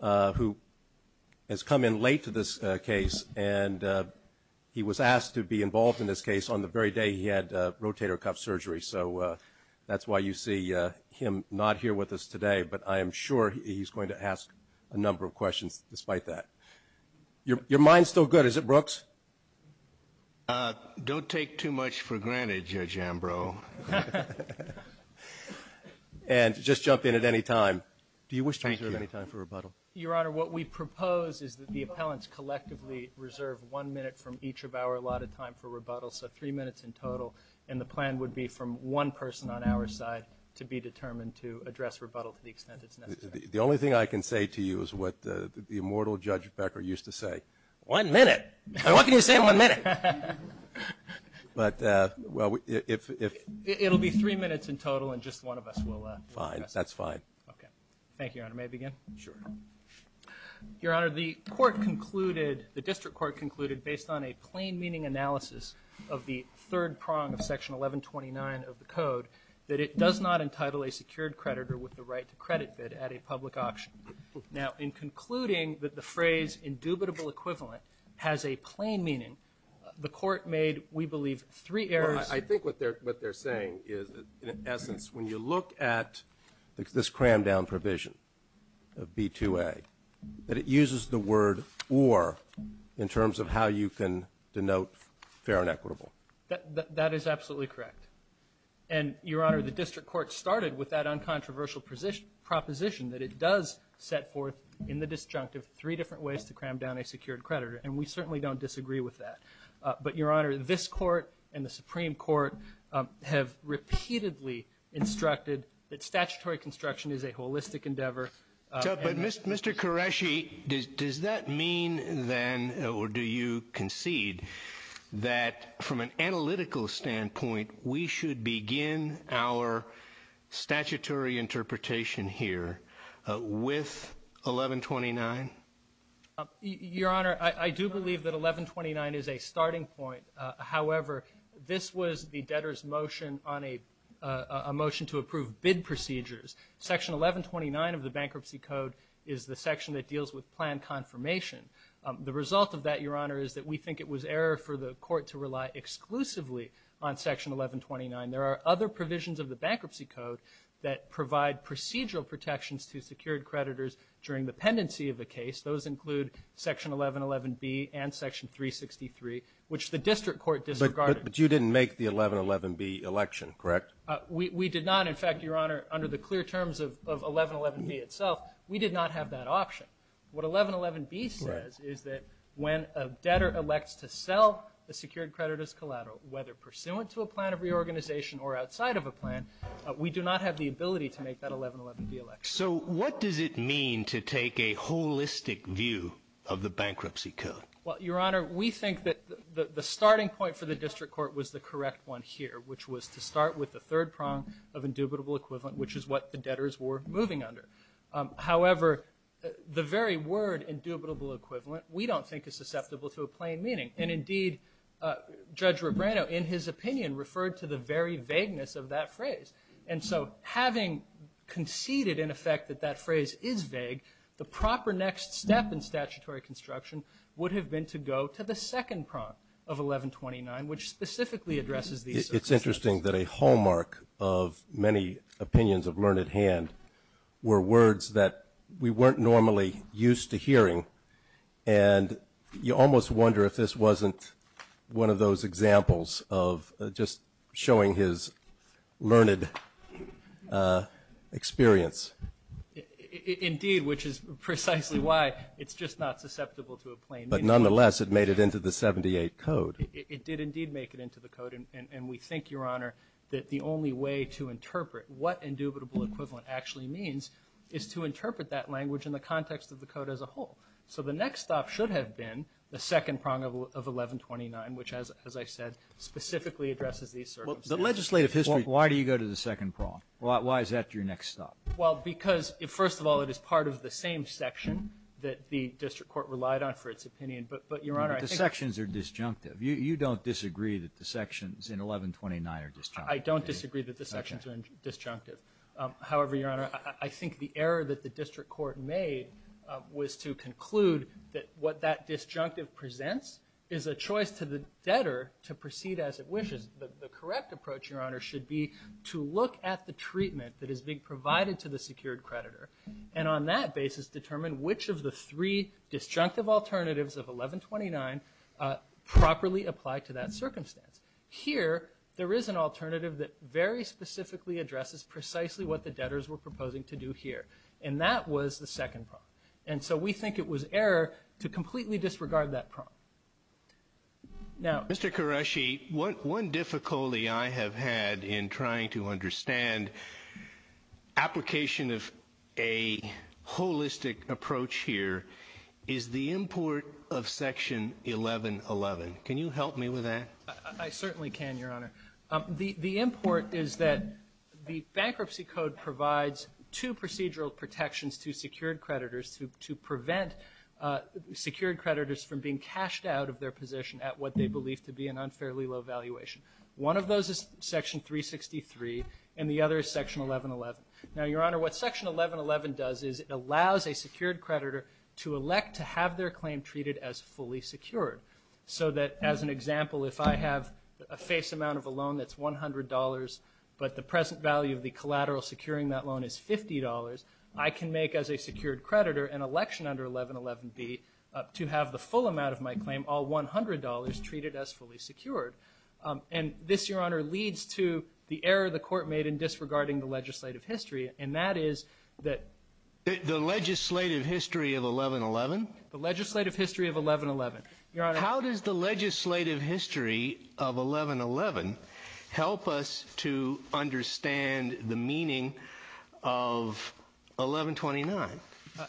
who has come in late to this case and he was asked to be involved in this case on the very day he had rotator cuff surgery so that's why you see him not here with us today but I am sure he's going to ask a number of questions despite that. Your mind's still good is it Brooks? Don't take too much for any time for rebuttal. Your honor what we propose is that the appellants collectively reserve one minute from each of our allotted time for rebuttal so three minutes in total and the plan would be from one person on our side to be determined to address rebuttal to the extent it's necessary. The only thing I can say to you is what the immortal Judge Becker used to say, one minute, what can you say in one minute? But well if it'll be three minutes in total and just one of us will. Fine that's fine. Thank you your honor. May I begin? Sure. Your honor the court concluded the district court concluded based on a plain meaning analysis of the third prong of section 1129 of the code that it does not entitle a secured creditor with the right to credit bid at a public auction. Now in concluding that the phrase indubitable equivalent has a plain meaning the court made we believe three errors. I think what they're saying is in essence when you look at this crammed down provision of B2A that it uses the word or in terms of how you can denote fair and equitable. That is absolutely correct and your honor the district court started with that uncontroversial proposition that it does set forth in the disjunctive three different ways to cram down a secured creditor and we certainly don't disagree with that but your honor this court and statutory construction is a holistic endeavor. Mr. Qureshi does that mean then or do you concede that from an analytical standpoint we should begin our statutory interpretation here with 1129? Your honor I do believe that 1129 is a starting point however this was the debtors motion on a motion to approve bid procedures. Section 1129 of the bankruptcy code is the section that deals with plan confirmation. The result of that your honor is that we think it was error for the court to rely exclusively on section 1129. There are other provisions of the bankruptcy code that provide procedural protections to secured creditors during the pendency of the case. Those include section 1111 B and section 363 which the district court disregarded. But you didn't make the 1111 B election correct? We did not in fact your honor under the clear terms of 1111 B itself we did not have that option. What 1111 B says is that when a debtor elects to sell the secured creditors collateral whether pursuant to a plan of reorganization or outside of a plan we do not have the ability to make that 1111 B election. So what does it mean to take a holistic view of the bankruptcy code? Well your honor we think that the starting point for the district court was the correct one here which was to start with the third prong of indubitable equivalent which is what the debtors were moving under. However the very word indubitable equivalent we don't think is susceptible to a plain meaning and indeed Judge Rebrano in his opinion referred to the very vagueness of that phrase. And so having conceded in effect that that phrase is vague the proper next step in statutory construction would have been to go to the second prong of 1129 which specifically addresses these. It's interesting that a hallmark of many opinions of learned hand were words that we weren't normally used to hearing and you almost wonder if this wasn't one of those examples of just showing his learned experience. Indeed which is precisely why it's just not susceptible to a plain meaning. But nonetheless it made it into the 78 code. It did indeed make it into the code and we think your honor that the only way to interpret what indubitable equivalent actually means is to interpret that language in the context of the code as a whole. So the next stop should have been the second prong of 1129 which as I said specifically addresses these. The legislative history, why do you go to the second prong? Why is that your next stop? Well because first of all it is part of the same section that the district court relied on for its opinion but your honor I think... The sections are disjunctive. You don't disagree that the sections in 1129 are disjunctive. I don't disagree that the sections are disjunctive. However your honor I think the error that the district court made was to conclude that what that disjunctive presents is a choice to the debtor to proceed as it wishes. The correct approach your honor should be to look at the treatment that is being provided to the secured creditor and on that basis determine which of the three disjunctive alternatives of 1129 properly apply to that circumstance. Here there is an alternative that very specifically addresses precisely what the debtors were proposing to do here and that was the second prong. And so we think it was error to completely disregard that prong. Now Mr. Qureshi, one difficulty I have had in trying to understand application of a holistic approach here is the import of section 1111. Can you help me with that? I certainly can your honor. The import is that the bankruptcy code provides two procedural protections to secured creditors to prevent secured creditors from being cashed out of their position at what they believe to be an unfairly low valuation. One of those is section 363 and the other is section 1111. Now your honor what section 1111 does is it allows a secured creditor to elect to have their claim treated as fully secured. So that as an example if I have a face amount of a loan that's $100 but the present value of the collateral securing that loan is $50, I can make as a secured creditor an election under 1111 be to have the full amount of my claim all $100 treated as fully secured. And this your honor leads to the error the court made in disregarding the legislative history and that is that... The legislative history of 1111? The legislative history of 1111. How does the legislative history of 1111 help us to understand the meaning of 1129?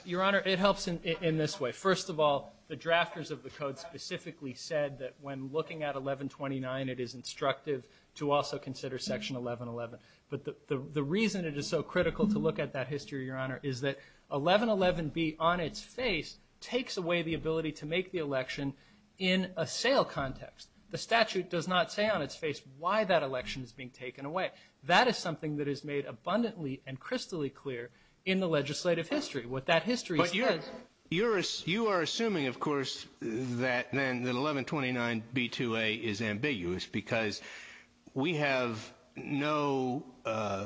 Your honor it helps in this way. First of all the drafters of the code specifically said that when looking at 1129 it is instructive to also consider section 1111 but the reason it is so critical to look at that history your honor is that 1111 be on its face takes away the ability to make the election in a sale context. The statute does not say on its being taken away. That is something that is made abundantly and crystally clear in the legislative history what that history is. But you are assuming of course that then the 1129 B2A is ambiguous because we have no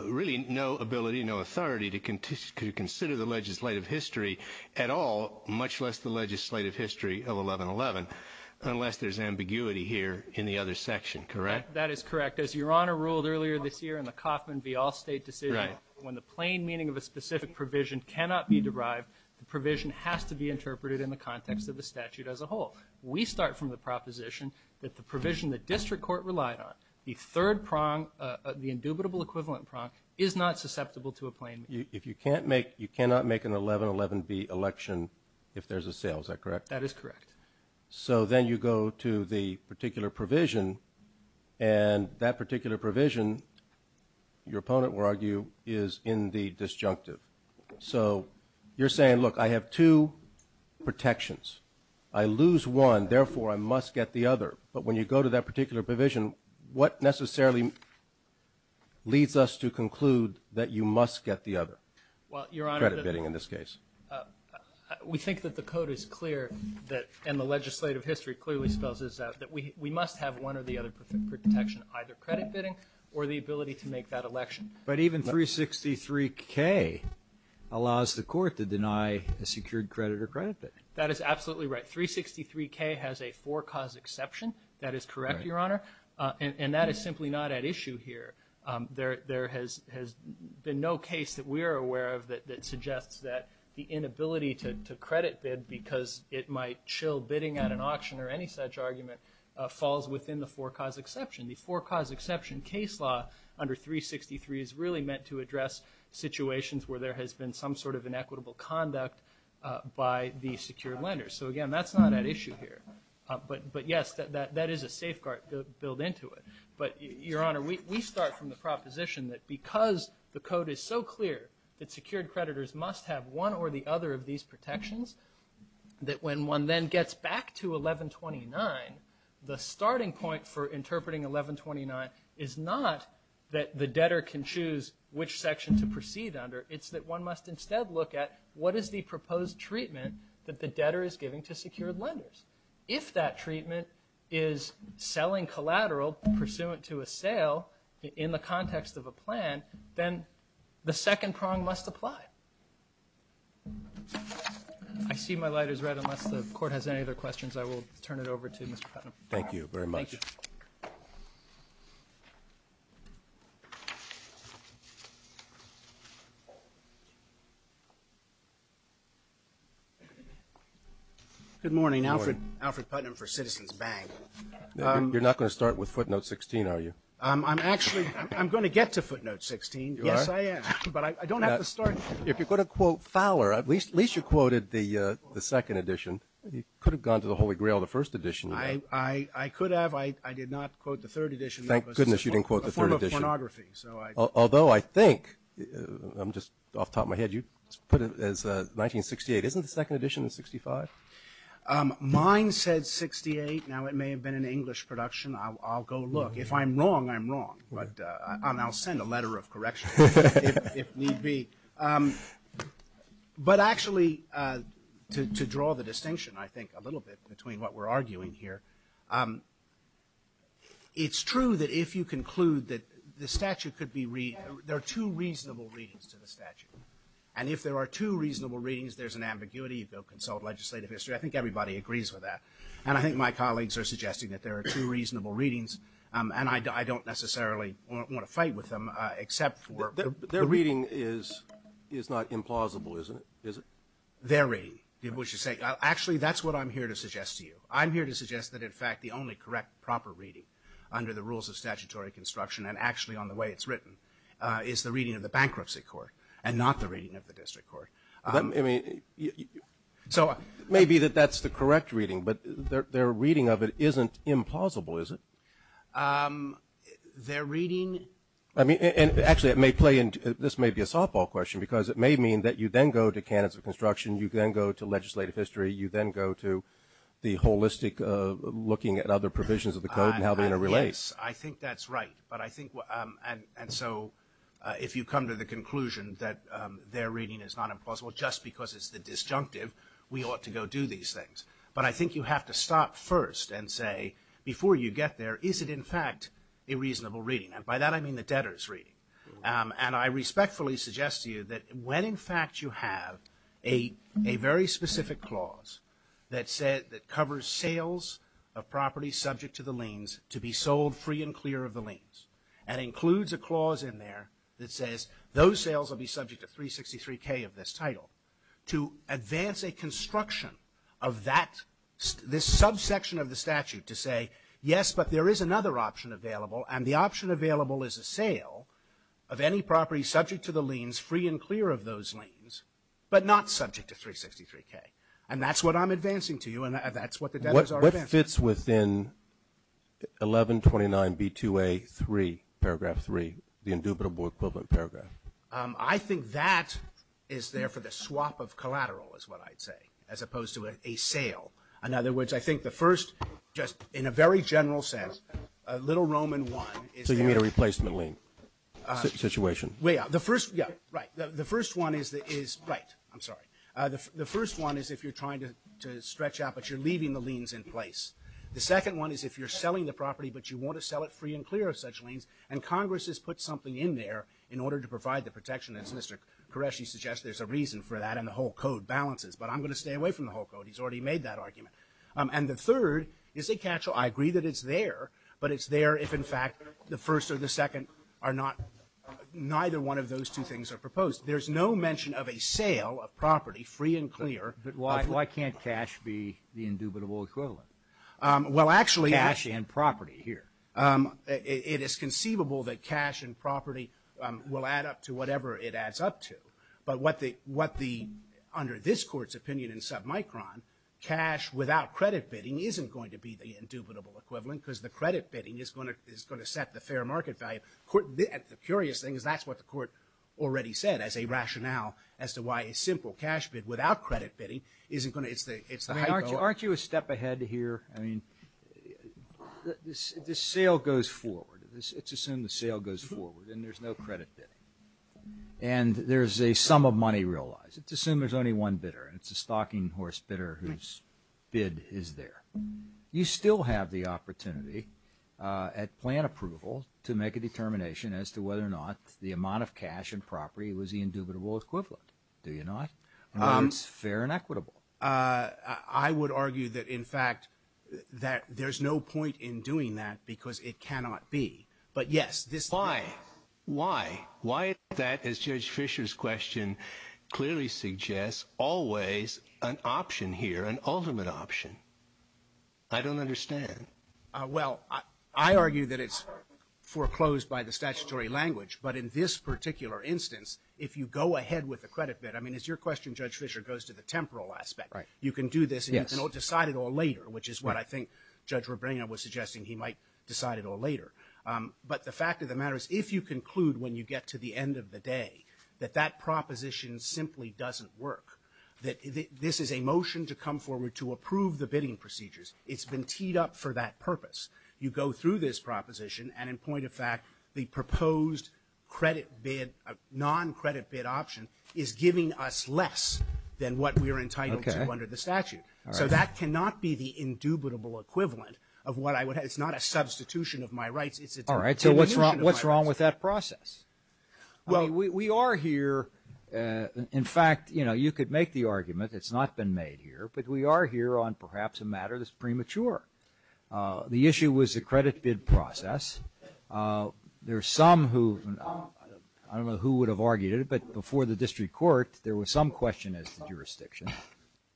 really no ability no authority to consider the legislative history at all much less the legislative history of 1111 unless there's ambiguity here in the other section correct? That is correct as your honor ruled earlier this year in the Coffman v. Allstate decision when the plain meaning of a specific provision cannot be derived the provision has to be interpreted in the context of the statute as a whole. We start from the proposition that the provision the district court relied on the third prong the indubitable equivalent prong is not susceptible to a plain meaning. If you can't make you cannot make an 1111 B election if there's a sale is that correct? That is correct. So then you go to the particular provision and that particular provision your opponent will argue is in the disjunctive. So you're saying look I have two protections. I lose one therefore I must get the other but when you go to that particular provision what necessarily leads us to conclude that you must get the other? Well your honor, credit bidding in this case. We think that the and the legislative history clearly spells this out that we must have one or the other protection either credit bidding or the ability to make that election. But even 363 K allows the court to deny a secured credit or credit bid. That is absolutely right. 363 K has a four cause exception. That is correct your honor and that is simply not at issue here. There has been no case that we are aware of that suggests that the inability to credit bid because it might chill bidding at an auction or any such argument falls within the four cause exception. The four cause exception case law under 363 is really meant to address situations where there has been some sort of inequitable conduct by the secured lenders. So again that's not at issue here. But yes that is a safeguard to build into it. But your honor we start from the proposition that because the code is so clear that secured creditors must have one or the other protection, one then gets back to 1129. The starting point for interpreting 1129 is not that the debtor can choose which section to proceed under. It's that one must instead look at what is the proposed treatment that the debtor is giving to secured lenders. If that treatment is selling collateral pursuant to a sale in the context of a plan, then the second prong must apply. I see my light is red unless the court has any other questions I will turn it over to Mr. Putnam. Thank you very much. Good morning. Alfred Putnam for Citizens Bank. You're not going to start with footnote 16 are you? I'm actually I'm going to get to footnote 16. Yes I am. But I if you're going to quote Fowler at least you quoted the second edition. You could have gone to the Holy Grail the first edition. I could have. I did not quote the third edition. Thank goodness you didn't quote the third edition. Although I think I'm just off top my head you put it as 1968. Isn't the second edition in 65? Mine said 68. Now it may have been an English production. I'll go look. If I'm wrong I'm going to be. But actually to draw the distinction I think a little bit between what we're arguing here. It's true that if you conclude that the statute could be there are two reasonable readings to the statute. And if there are two reasonable readings there's an ambiguity. You go consult legislative history. I think everybody agrees with that. And I think my colleagues are suggesting that there are two reasonable readings. And I don't necessarily want to fight with them except for their reading is it's not implausible isn't it? Is it? Very. What you say. Actually that's what I'm here to suggest to you. I'm here to suggest that in fact the only correct proper reading under the rules of statutory construction and actually on the way it's written is the reading of the bankruptcy court and not the reading of the district court. I mean so maybe that that's the correct reading but their reading of it isn't impossible is it? Their reading. I mean and actually it may play in. This may be a softball question because it may mean that you then go to candidates of construction. You then go to legislative history. You then go to the holistic looking at other provisions of the code and how they relate. I think that's right. But I think. And so if you come to the conclusion that their reading is not impossible just because it's the disjunctive we ought to go do these things. But I think you have to stop first and say before you get there is it in fact a reasonable reading. And by that I mean the debtors reading. And I respectfully suggest to you that when in fact you have a very specific clause that said that covers sales of property subject to the liens to be sold free and clear of the liens and includes a clause in there that of that this subsection of the statute to say yes but there is another option available and the option available is a sale of any property subject to the liens free and clear of those liens but not subject to 363k. And that's what I'm advancing to you and that's what the debtors are advancing. What fits within 1129 B2A 3 paragraph 3 the indubitable equivalent paragraph? I think that is there for the swap of collateral is what I'd say as opposed to a sale. In other words I think the first just in a very general sense a little Roman one. So you need a replacement lien situation? Yeah the first one is that is right. I'm sorry. The first one is if you're trying to stretch out but you're leaving the liens in place. The second one is if you're selling the property but you want to sell it free and clear of such liens and Congress has put something in there in order to provide the protection as Mr. Koreshi suggests there's a reason for that and the whole code balances but I'm going to stay away from the whole code. He's already made that argument. And the third is a catch-all. I agree that it's there but it's there if in fact the first or the second are not neither one of those two things are proposed. There's no mention of a sale of property free and clear. But why can't cash be the indubitable equivalent? Well actually property here. It is conceivable that cash and property will add up to whatever it adds up to. But what the under this court's opinion in submicron cash without credit bidding isn't going to be the indubitable equivalent because the credit bidding is going to set the fair market value. The curious thing is that's what the court already said as a rationale as to why a simple cash bid without credit bidding isn't going to... Aren't you a step ahead here? I mean the sale goes forward. Let's assume the sale goes forward and there's no credit bidding and there's a sum of money realized. Let's assume there's only one bidder and it's a stocking horse bidder whose bid is there. You still have the opportunity at plan approval to make a determination as to whether or not the amount of cash and property was the indubitable equivalent. Do you not? It's fair and equitable. I would argue that in fact that there's no point in doing that because it cannot be. But yes this... Why? Why? Why is that as Judge Fisher's question clearly suggests always an option here an ultimate option? I don't understand. Well I argue that it's foreclosed by the statutory language but in this particular instance if you go ahead with the credit bid I mean it's your question Judge Fisher goes to the temporal aspect. You can do this and decide it all later which is what I think Judge Rabrino was suggesting he might decide it all later. But the fact of the matter is if you conclude when you get to the end of the day that that proposition simply doesn't work. That this is a motion to come forward to approve the bidding procedures. It's been teed up for that purpose. You go through this proposition and in point of fact the proposed credit bid non-credit bid option is giving us less than what we are entitled to under the statute. So that cannot be the indubitable equivalent of what I would have. It's not a substitution of my rights. All right so what's wrong what's wrong with that process? Well we are here in fact you know you could make the argument it's not been made here but we are here on perhaps a matter that's premature. The issue was the credit bid process. There are some who I don't know who would have argued it but before the district court there was some question as to jurisdiction.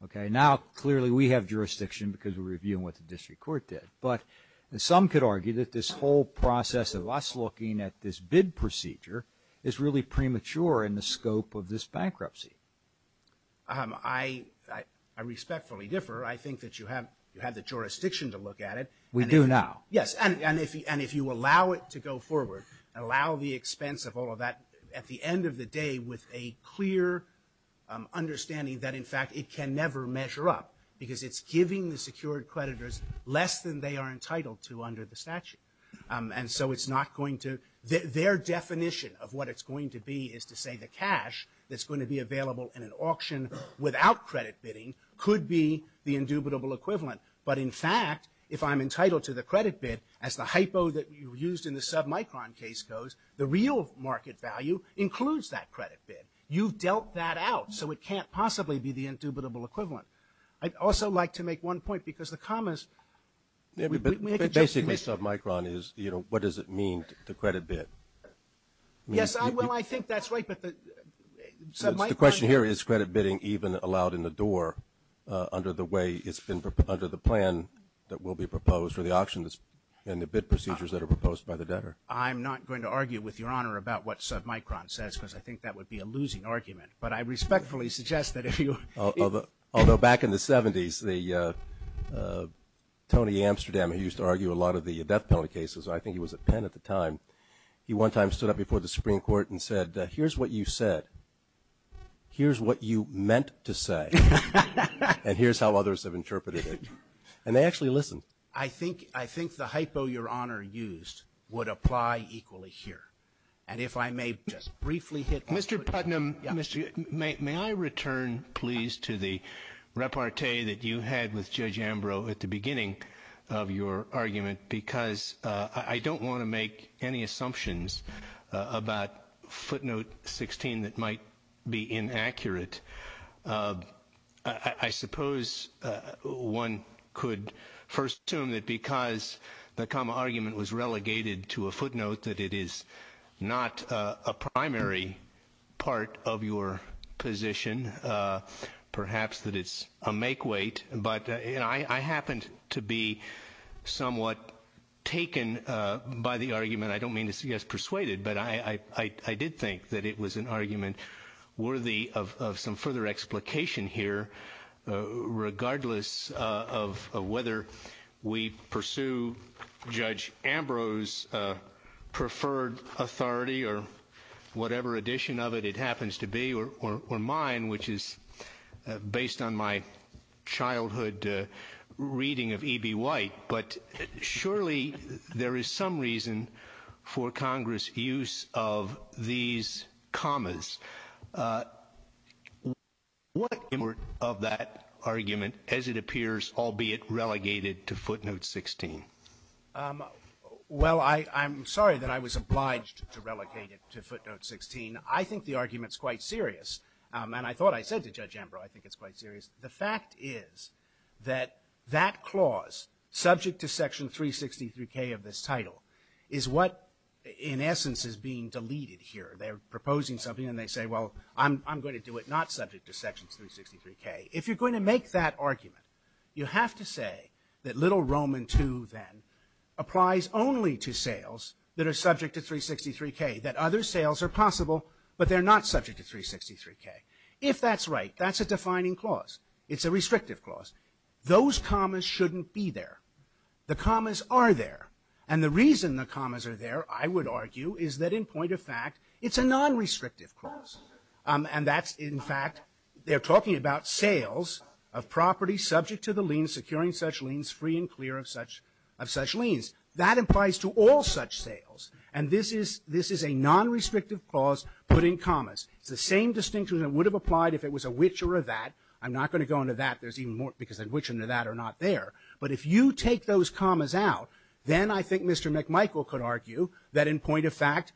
Okay now clearly we have jurisdiction because we're reviewing what the district court did. But some could argue that this whole process of us looking at this bid procedure is really premature in the scope of this bankruptcy. I respectfully differ. I think that you have had the jurisdiction to look at it. We do now. Yes and if you allow it to go forward allow the expense of all of that at the end of the day with a clear understanding that in fact it can never measure up. Because it's giving the security creditors less than they are entitled to under the statute. And so it's not going to their definition of what it's going to be is to say the cash that's going to be available in an auction without credit bidding could be the indubitable equivalent. But in fact if I'm entitled to the credit bid as the hypo that you used in the submicron case goes the real market value includes that credit bid. You've dealt that out so it can't possibly be the indubitable equivalent. I'd also like to make one point because the commas basically submicron is you know what does it mean to credit bid. Yes I think that's right. But the question here is credit bidding even allowed in the door under the way it's been under the plan that will be proposed for the auctionist and the bid procedures that are proposed by the debtor. I'm not going to argue with your honor about what submicron says because I think that would be a losing argument. But I respectfully suggest that if you although back in the 70s the Tony Amsterdam who used to argue a lot of the death penalty cases I think he was a pen at the time. He one time stood up before the Supreme Court and said here's what you said. Here's what you meant to say. And here's how others have interpreted it. And they actually listen. I think I think the hypo your honor used would apply equally here. And if I may just briefly Mr. Putnam. May I return please to the repartee that you had with Judge Ambrose at the beginning of your argument because I don't want to make any assumptions about footnote 16 that might be inaccurate. I suppose one could first assume that because the comma argument was relegated to a part of your position perhaps that it's a make weight. But I happened to be somewhat taken by the argument. I don't mean to get persuaded but I did think that it was an argument worthy of some further explication here regardless of whether we pursue Judge Ambrose preferred authority or whatever edition of it it happens to be or mine which is based on my childhood reading of E.B. White. But surely there is some reason for Congress use of these commas. What of that argument as it appears albeit relegated to footnote 16. Well I'm sorry that I was obliged to relegate it to footnote 16. I think the argument is quite serious. And I thought I said to Judge Ambrose I think it's quite serious. The fact is that that clause subject to Section 363 K of this title is what in essence is being deleted here. They're proposing something and they say well I'm going to do it not subject to Section 363 K. If you're going to make that argument you have to say that little Roman 2 then applies only to sales that are subject to 363 K that other sales are possible but they're not subject to 363 K. If that's right that's a defining clause. It's a restrictive clause. Those commas shouldn't be there. The commas are there. And the reason the commas are there I would argue is that in point of fact it's a non-restrictive clause. And that's in fact they're talking about sales of property subject to the liens free and clear of such liens. That applies to all such sales. And this is a non-restrictive clause put in commas. It's the same distinction that would have applied if it was a which or a that. I'm not going to go into that. There's even more because a which and a that are not there. But if you take those commas out then I think Mr. McMichael could argue that in point of fact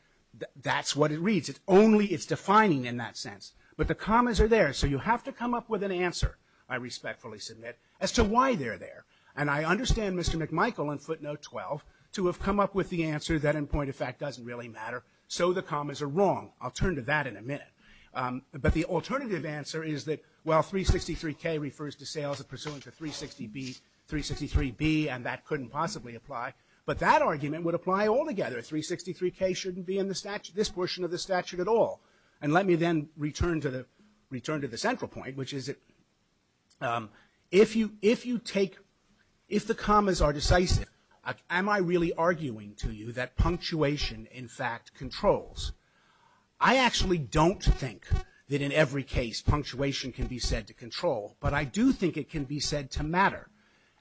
that's what it reads. It's only it's defining in that sense. But the commas are there. So you have to come up with an answer I respectfully submit as to why they're there. And I understand Mr. McMichael in footnote 12 to have come up with the answer that in point of fact doesn't really matter. So the commas are wrong. I'll turn to that in a minute. But the alternative answer is that while 363 K refers to sales of pursuant to 360 B, 363 B and that couldn't possibly apply. But that argument would apply all together. 363 K shouldn't be in the statute this portion of the statute at all. And let me then return to the return to the central point which is if you if you take if the commas are decisive am I really arguing to you that punctuation in fact controls. I actually don't think that in every case punctuation can be said to control. But I do think it can be said to matter.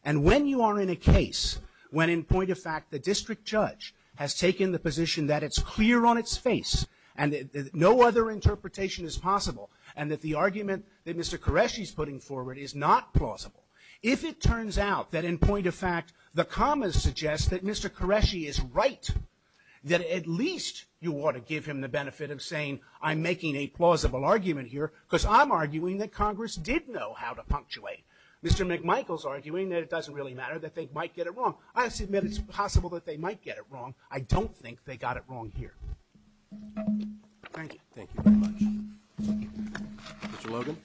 And when you are in a case when in point of fact the district judge has taken the position that it's clear on its face and that no other interpretation is possible and that the argument that Mr. Qureshi is putting forward is not plausible. If it turns out that in point of fact the commas suggest that Mr. Qureshi is right then at least you ought to give him the benefit of saying I'm making a plausible argument here because I'm arguing that Congress did know how to punctuate. Mr. McMichael's arguing that it doesn't really matter that they might get it wrong. I don't think they got it wrong here. Thank you very much. Mr. Logan.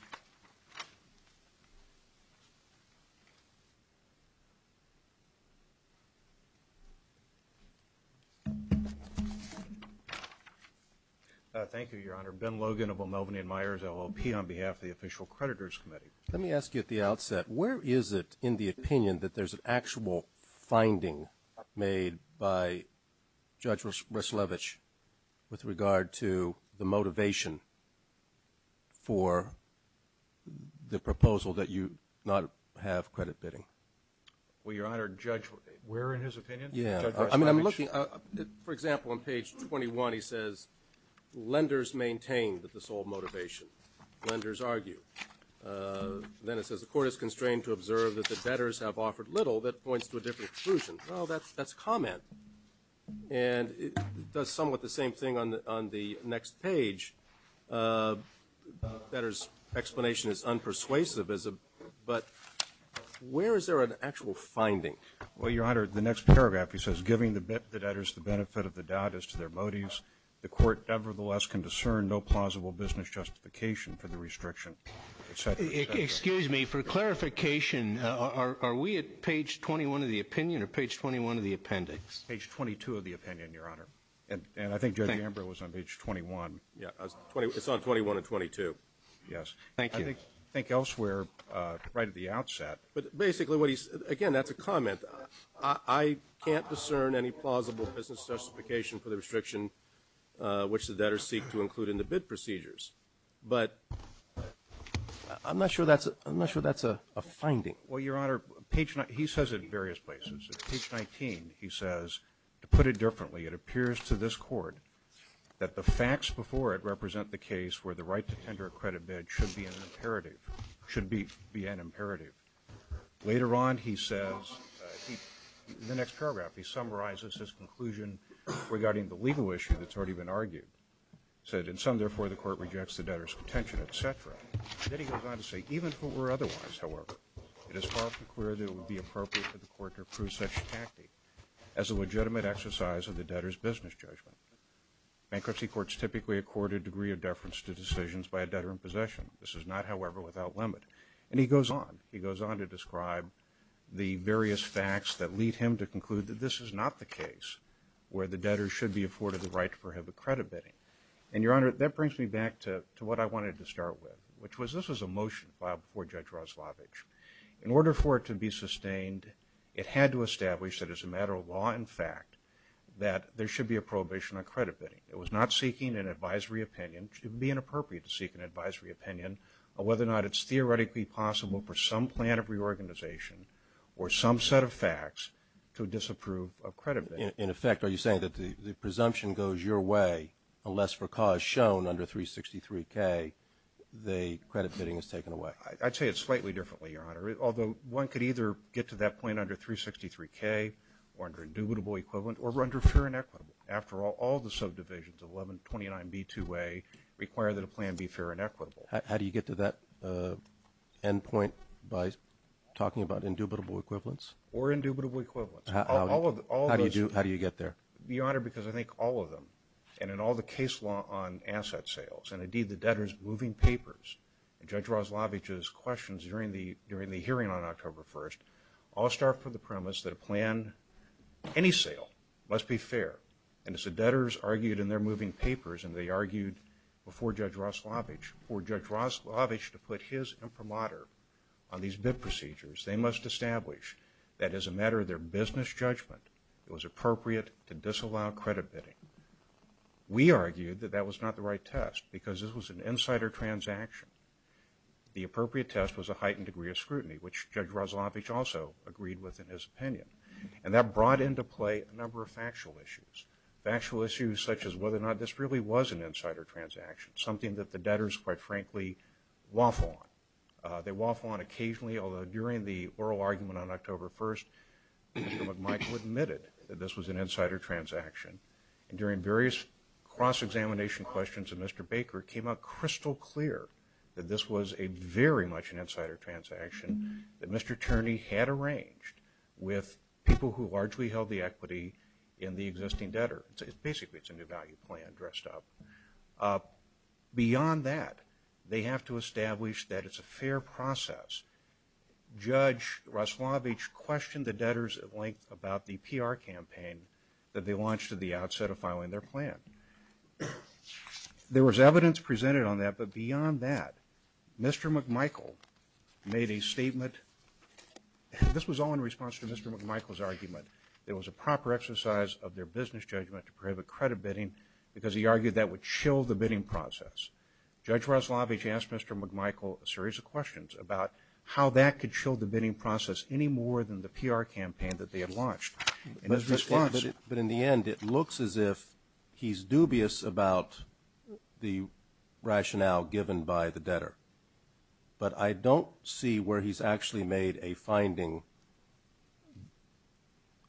Thank you Your Honor. Ben Logan of the Melbourne and Myers LLP on behalf of the official creditors committee. Let me ask you at the outset where is it in the opinion that there's an actual finding made by Judge Ruslevich with regard to the motivation for the proposal that you not have credit bidding. Well Your Honor judge where in his opinion. Yeah I mean I'm looking for example on page 21 he says lenders maintain that the sole motivation lenders argue. Then it says the court is constrained to observe that the little that points to a different conclusion. Well that's that's comment and somewhat the same thing on the next page that is explanation is unpersuasive. But where is there an actual finding. Well Your Honor. The next paragraph he says giving the debtors the benefit of the doubt as to their motives. The court nevertheless can discern no plausible business justification for the restriction. Excuse me for clarification. Are we at page 21 of the opinion or page 21 of the appendix. Page 22 of the opinion Your Honor. And I think it was on page 21. Yeah. It's not 21 or 22. Yes. Thank you. I think elsewhere right at the outset. But basically what he's again that's a comment. I can't discern any plausible business justification for the restriction which the debtors seek to include in the bid procedures. But I'm not sure that's I'm not sure that's a finding. Well Your Honor. He says it in various places. Page 19 he says to put it differently it appears to this court that the facts before it represent the case where the right to tender a credit bid should be imperative should be be an imperative. Later on he says in the next paragraph he goes on to say that the court rejects the debtor's contention etc. Then he goes on to say even if it were otherwise however it is far too clear that it would be appropriate for the court to approve such a tactic as a legitimate exercise of the debtor's business judgment. Bankruptcy courts typically accord a degree of deference to decisions by a debtor in possession. This is not however without limit. And he goes on. He goes on to describe the various facts that lead him to conclude that this is not the case where the debtor should be afforded the right for him to credit bidding. And Your Honor that brings me back to what I wanted to start with which was this was a motion filed before Judge Roslovich. In order for it to be sustained it had to establish that as a matter of law in fact that there should be a prohibition on credit bidding. It was not seeking an advisory opinion. It would be inappropriate to seek an advisory opinion on whether or not it's theoretically possible for some plan of reorganization or some set of facts to disapprove of credit. In effect are you saying that the presumption goes your way unless for cause shown under 363 K the credit bidding is taken away. I'd say it's slightly differently Your Honor. Although one could either get to that point under 363 K or under indubitable equivalent or under fair and equitable. After all all the subdivisions 11 29 B 2 A require that a plan be fair and equitable. How do you get to that end point by talking about indubitable equivalence or indubitable equivalent. How do you do. How do you get there. Your Honor because I think all of them and in all the case law on asset sales and indeed the debtors moving papers. Judge Roslovich's questions during the during the hearing on October 1st all start from the premise that a plan any sale must be fair. And so debtors argued in their moving papers and they argued before Judge Roslovich or Judge Roslovich to put his imprimatur on these bid procedures. They must establish that as a matter of their business judgment it was appropriate to disallow credit bidding. We argued that that was not the right test because this was an insider transaction. The appropriate test was a heightened degree of scrutiny which Judge Roslovich also agreed with in his opinion. And that brought into play a number of factual issues. Factual issues such as whether or not this really was an insider transaction. Something that the debtors quite frankly waffle on. They waffle on occasionally although during the oral argument on October 1st Mr. McMichael admitted that this was an insider transaction. During various cross-examination questions of Mr. Baker it came out crystal clear that this was a very much an insider transaction that Mr. Baker largely held the equity in the existing debtor. Basically it's a new value plan dressed up. Beyond that they have to establish that it's a fair process. Judge Roslovich questioned the debtors at length about the PR campaign that they launched at the outset of filing their plan. There was evidence presented on that but beyond that Mr. McMichael made a statement. This was all in response to Mr. McMichael's argument. It was a proper exercise of their business judgment to prohibit credit bidding because he argued that would chill the bidding process. Judge Roslovich asked Mr. McMichael a series of questions about how that could chill the rationale given by the debtor. But I don't see where he's actually made a finding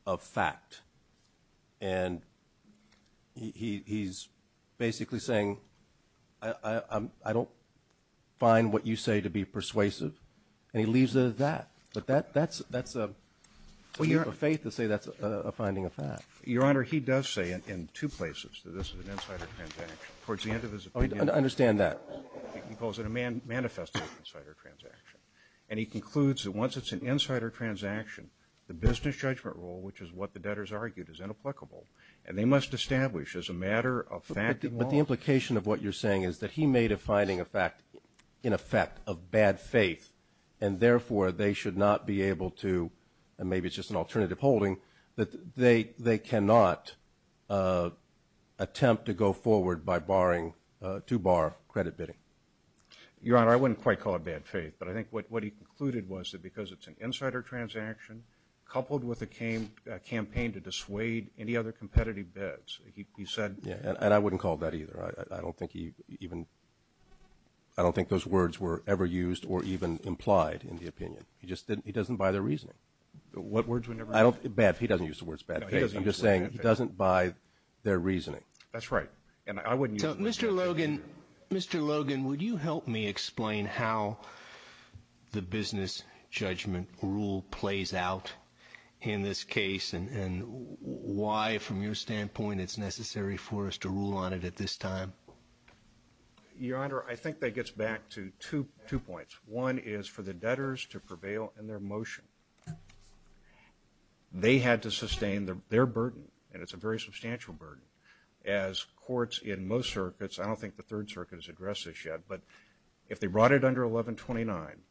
of fact. And he's basically saying I don't find what you say to be persuasive. And he leaves it at that. But that's a statement of faith to say that's a finding of fact. Your Honor, he does say in two places that this is an insider transaction. Towards the end of his opinion. Oh, I understand that. He calls it a manifest insider transaction. And he concludes that once it's an insider transaction the business judgment rule, which is what the debtors argued, is inapplicable. And they must establish as a matter of fact... But the implication of what you're saying is that he made a finding of fact in effect of bad faith and therefore they should not be able to, and maybe it's just an alternative holding, that they cannot attempt to go forward by barring, to bar credit bidding. Your Honor, I wouldn't quite call it bad faith. But I think what he concluded was that because it's an insider transaction coupled with a campaign to dissuade any other competitive bets, he said... Yeah, and I wouldn't call it that either. I don't think he even... I don't think those words were ever used or even implied in the opinion. He just didn't... he doesn't buy their reasoning. What words were never... I don't... bad... he doesn't use the words bad faith. I'm just saying he doesn't buy their reasoning. That's right. And I wouldn't use... So, Mr. Logan, Mr. Logan, would you help me explain how the business judgment rule plays out in this case and why, from your standpoint, it's necessary for us to rule on it at this time? Your Honor, I think that gets back to two points. One is for the debtors to prevail in their motion. They had to sustain their burden, and it's a very substantial burden. As courts in most circuits, I don't think the Third Circuit has addressed this yet, but if they brought it under 1129,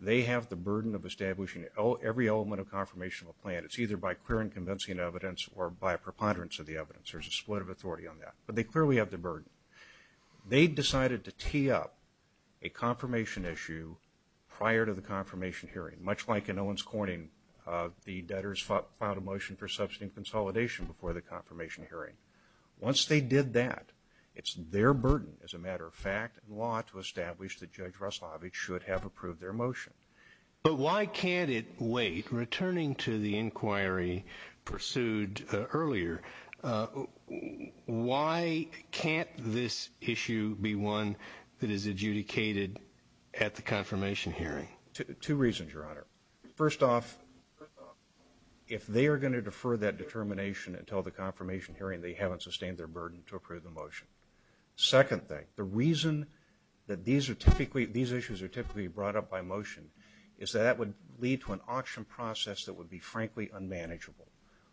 they have the burden of establishing every element of confirmation of a plan. It's either by clear and convincing evidence or by preponderance of the evidence. There's a split of authority on that, but they clearly have the burden. They've decided to tee up a confirmation issue prior to the confirmation hearing, much like in Owens Corning, the debtors filed a motion for substantive consolidation before the confirmation hearing. Once they did that, it's their burden, as a matter of fact, and law, to establish that Judge Russovich should have approved their motion. But why can't it wait? Returning to the inquiry pursued earlier, why can't this issue be one that is adjudicated at the confirmation hearing? Two reasons, Your Honor. First off, if they are going to defer that determination until the confirmation hearing, they haven't sustained their burden to approve the motion. Second thing, the reason that these issues are typically brought up by motion is that that would lead to an auction process that would be, frankly, unmanageable.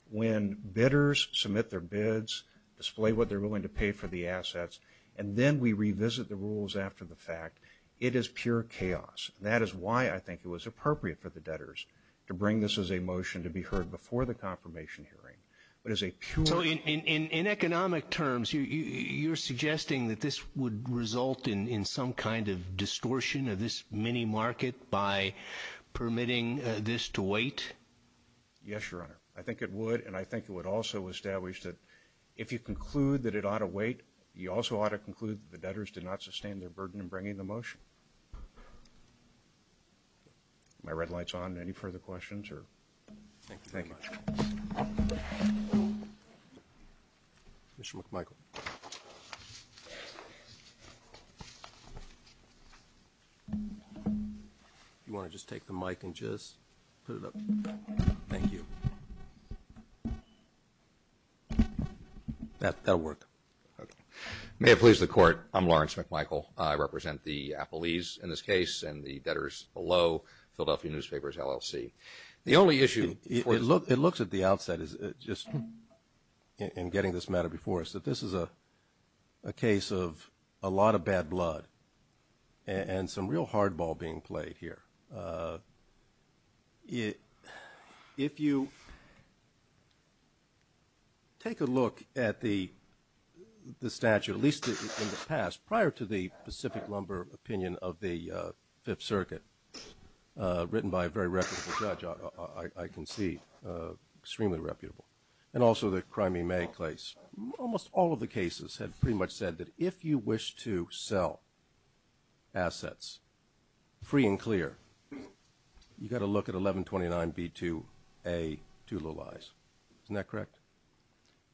When bidders submit their bids, display what they're willing to pay for the assets, and then we revisit the rules after the fact, it is pure chaos. That is why I think it was appropriate for the debtors to bring this as a motion to be heard before the confirmation hearing. So in economic terms, you're suggesting that this would result in some kind of distortion of this mini-market by permitting this to wait? Yes, Your Honor. I think it would, and I think it would also establish that if you conclude that it ought to wait, you also ought to conclude that the debtors did not sustain their burden in bringing the motion. My red light's on. Any further questions? Thank you very much. Mr. McMichael. Do you want to just take the mic and just put it up? Thank you. That'll work. May it please the Court, I'm Lawrence McMichael. I represent the appellees in this case and the debtors below Philadelphia Newspapers LLC. The only issue – It looks at the outset, just in getting this matter before us, that this is a case of a lot of bad blood and some real hardball being played here. If you take a look at the statute, at least in the past, prior to the Pacific Lumber opinion of the Fifth Circuit, written by a very reputable judge, I can see, extremely reputable, and also the crime he may place, almost all of the cases have pretty much said that if you wish to sell assets free and clear, you've got to look at 1129B2A, two little I's. Isn't that correct?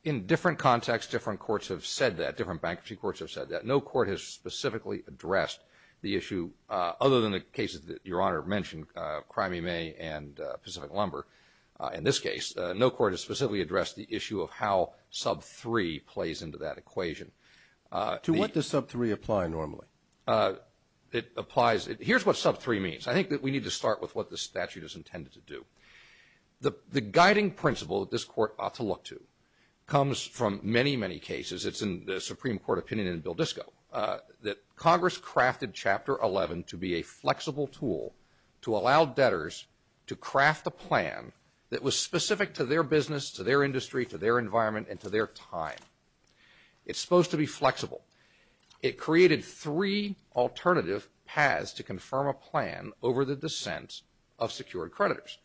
In different contexts, different courts have said that, different bankruptcy courts have said that. No court has specifically addressed the issue, other than the cases that Your Honor mentioned, crime he may and Pacific Lumber. In this case, no court has specifically addressed the issue of how sub-3 plays into that equation. To what does sub-3 apply normally? It applies – here's what sub-3 means. I think that we need to start with what the statute is intended to do. The guiding principle that this court ought to look to comes from many, many cases. It's in the Supreme Court opinion in Valdisco that Congress crafted Chapter 11 to be a flexible tool to allow debtors to craft a plan that was specific to their business, to their industry, to their environment, and to their time. It's supposed to be flexible. It created three alternative paths to confirm a plan over the descent of secured creditors,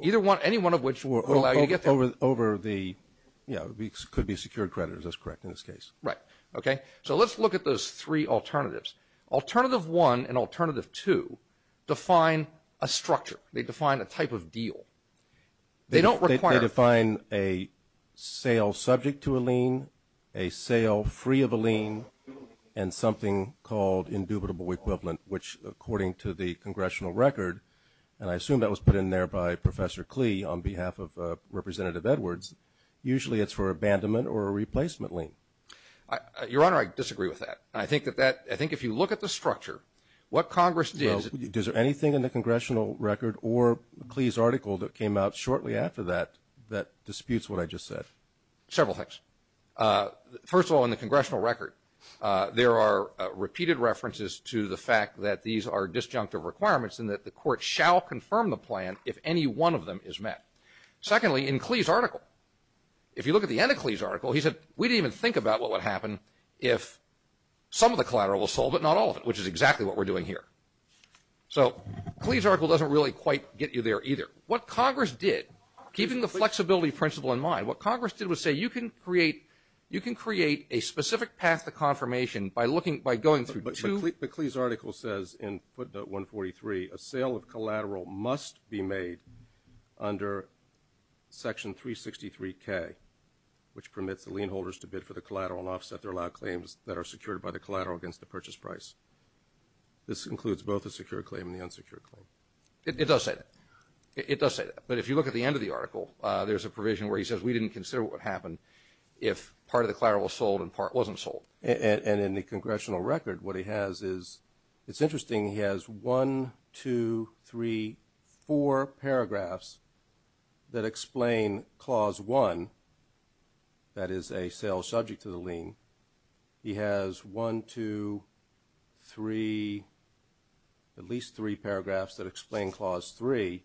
any one of which would allow you to get there. Over the – yeah, it could be secured creditors. That's correct in this case. Right. Okay. So let's look at those three alternatives. Alternative 1 and Alternative 2 define a structure. They define a type of deal. They don't require – They define a sale subject to a lien, a sale free of a lien, and something called indubitable equivalent, which, according to the congressional record, and I assume that was put in there by Professor Klee on behalf of Representative Edwards, usually it's for abandonment or a replacement lien. Your Honor, I disagree with that. I think that that – I think if you look at the structure, what Congress did – is there anything in the congressional record or Klee's article that came out shortly after that that disputes what I just said? Several things. First of all, in the congressional record, there are repeated references to the fact that these are disjunctive requirements and that the court shall confirm the plan if any one of them is met. Secondly, in Klee's article, if you look at the end of Klee's article, he said, we didn't even think about what would happen if some of the collateral was sold but not all of it, which is exactly what we're doing here. So Klee's article doesn't really quite get you there either. What Congress did, keeping the flexibility principle in mind, what Congress did was say you can create a specific path to confirmation by going through – Klee's article says in footnote 143, a sale of collateral must be made under section 363K, which permits the lien holders to bid for the collateral and offset their allowed claims that are secured by the collateral against the purchase price. This includes both the secure claim and the unsecured claim. It does say that. It does say that. But if you look at the end of the article, there's a provision where he says we didn't consider what would happen if part of the collateral was sold and part wasn't sold. And in the congressional record, what he has is – it's interesting. He has one, two, three, four paragraphs that explain Clause 1, that is, a sale subject to the lien. He has one, two, three, at least three paragraphs that explain Clause 3.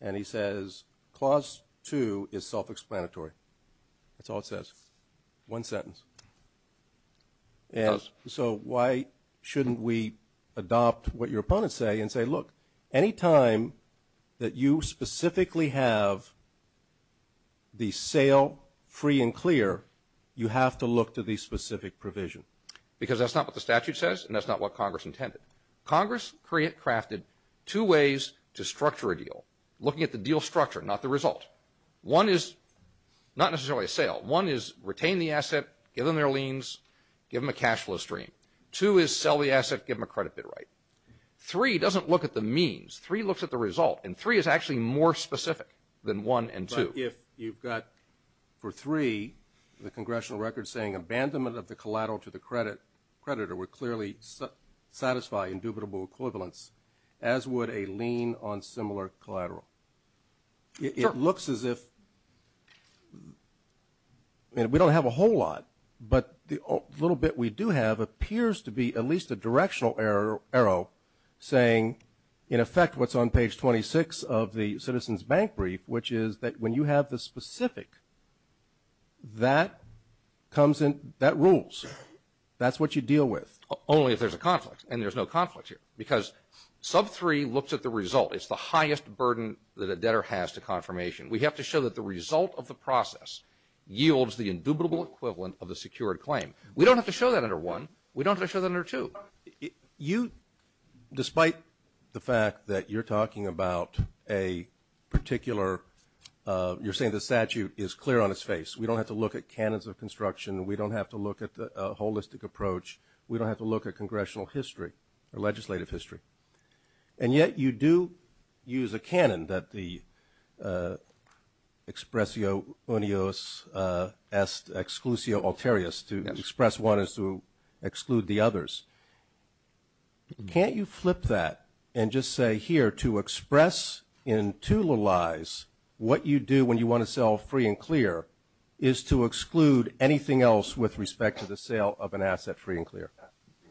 And he says Clause 2 is self-explanatory. That's all it says, one sentence. And so why shouldn't we adopt what your opponents say and say, look, any time that you specifically have the sale free and clear, you have to look to the specific provision? Because that's not what the statute says and that's not what Congress intended. Congress crafted two ways to structure a deal, looking at the deal structure, not the result. One is not necessarily a sale. One is retain the asset, give them their liens, give them a cash flow stream. Two is sell the asset, give them a credit bid right. Three doesn't look at the means. Three looks at the result. And three is actually more specific than one and two. But if you've got, for three, the congressional record saying abandonment of the collateral to the creditor would clearly satisfy indubitable equivalence, as would a lien on similar collateral. It looks as if we don't have a whole lot, but the little bit we do have appears to be at least a directional arrow saying, in effect, what's on page 26 of the citizen's bank brief, which is that when you have the specific, that comes in, that rules. That's what you deal with. Only if there's a conflict. And there's no conflict here. Because sub three looks at the result. It's the highest burden that a debtor has to confirmation. We have to show that the result of the process yields the indubitable equivalent of the secured claim. We don't have to show that under one. We don't have to show that under two. You, despite the fact that you're talking about a particular, you're saying the statute is clear on its face. We don't have to look at canons of construction. We don't have to look at the holistic approach. We don't have to look at congressional history or legislative history. And yet you do use a canon that the expressio unios exclusio alterius to express one is to exclude the others. Can't you flip that and just say here to express in two lies what you do when you want to sell free and clear is to exclude anything else with respect to the sale of an asset free and clear?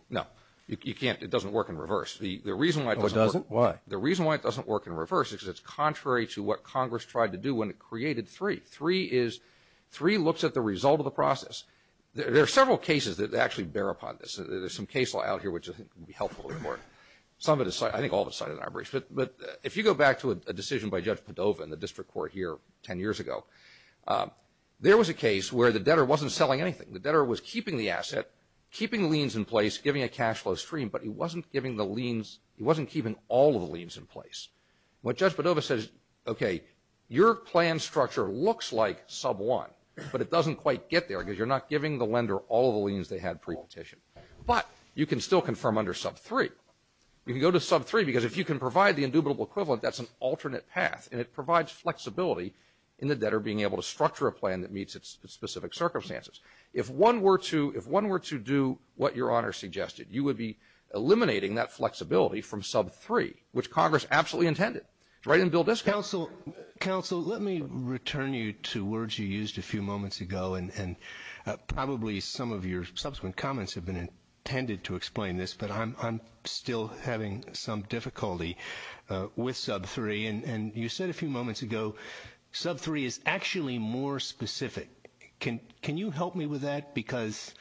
No. You can't. It doesn't work in reverse. The reason why it doesn't work in reverse is because it's contrary to what Congress tried to do when it created three. Three looks at the result of the process. There are several cases that actually bear upon this. There's some case law out here which I think will be helpful to the court. Some of the side, I think all of the side of the arbitrage. But if you go back to a decision by Judge Padova in the district court here 10 years ago, there was a case where the debtor wasn't selling anything. The debtor was keeping the asset, keeping liens in place, giving a cash flow stream, but he wasn't giving the liens, he wasn't keeping all of the liens in place. What Judge Padova says, okay, your plan structure looks like sub one, but it doesn't quite get there because you're not giving the lender all of the liens they had pre-quotation. But you can still confirm under sub three. You can go to sub three because if you can provide the indubitable equivalent, that's an alternate path, and it provides flexibility in the debtor being able to structure a plan that meets its specific circumstances. If one were to do what your honor suggested, you would be eliminating that flexibility from sub three, which Congress absolutely intended. Right in Bill Dishman. Counsel, let me return you to words you used a few moments ago, and probably some of your subsequent comments have been intended to explain this, but I'm still having some difficulty with sub three. And you said a few moments ago, sub three is actually more specific. Can you help me with that? Because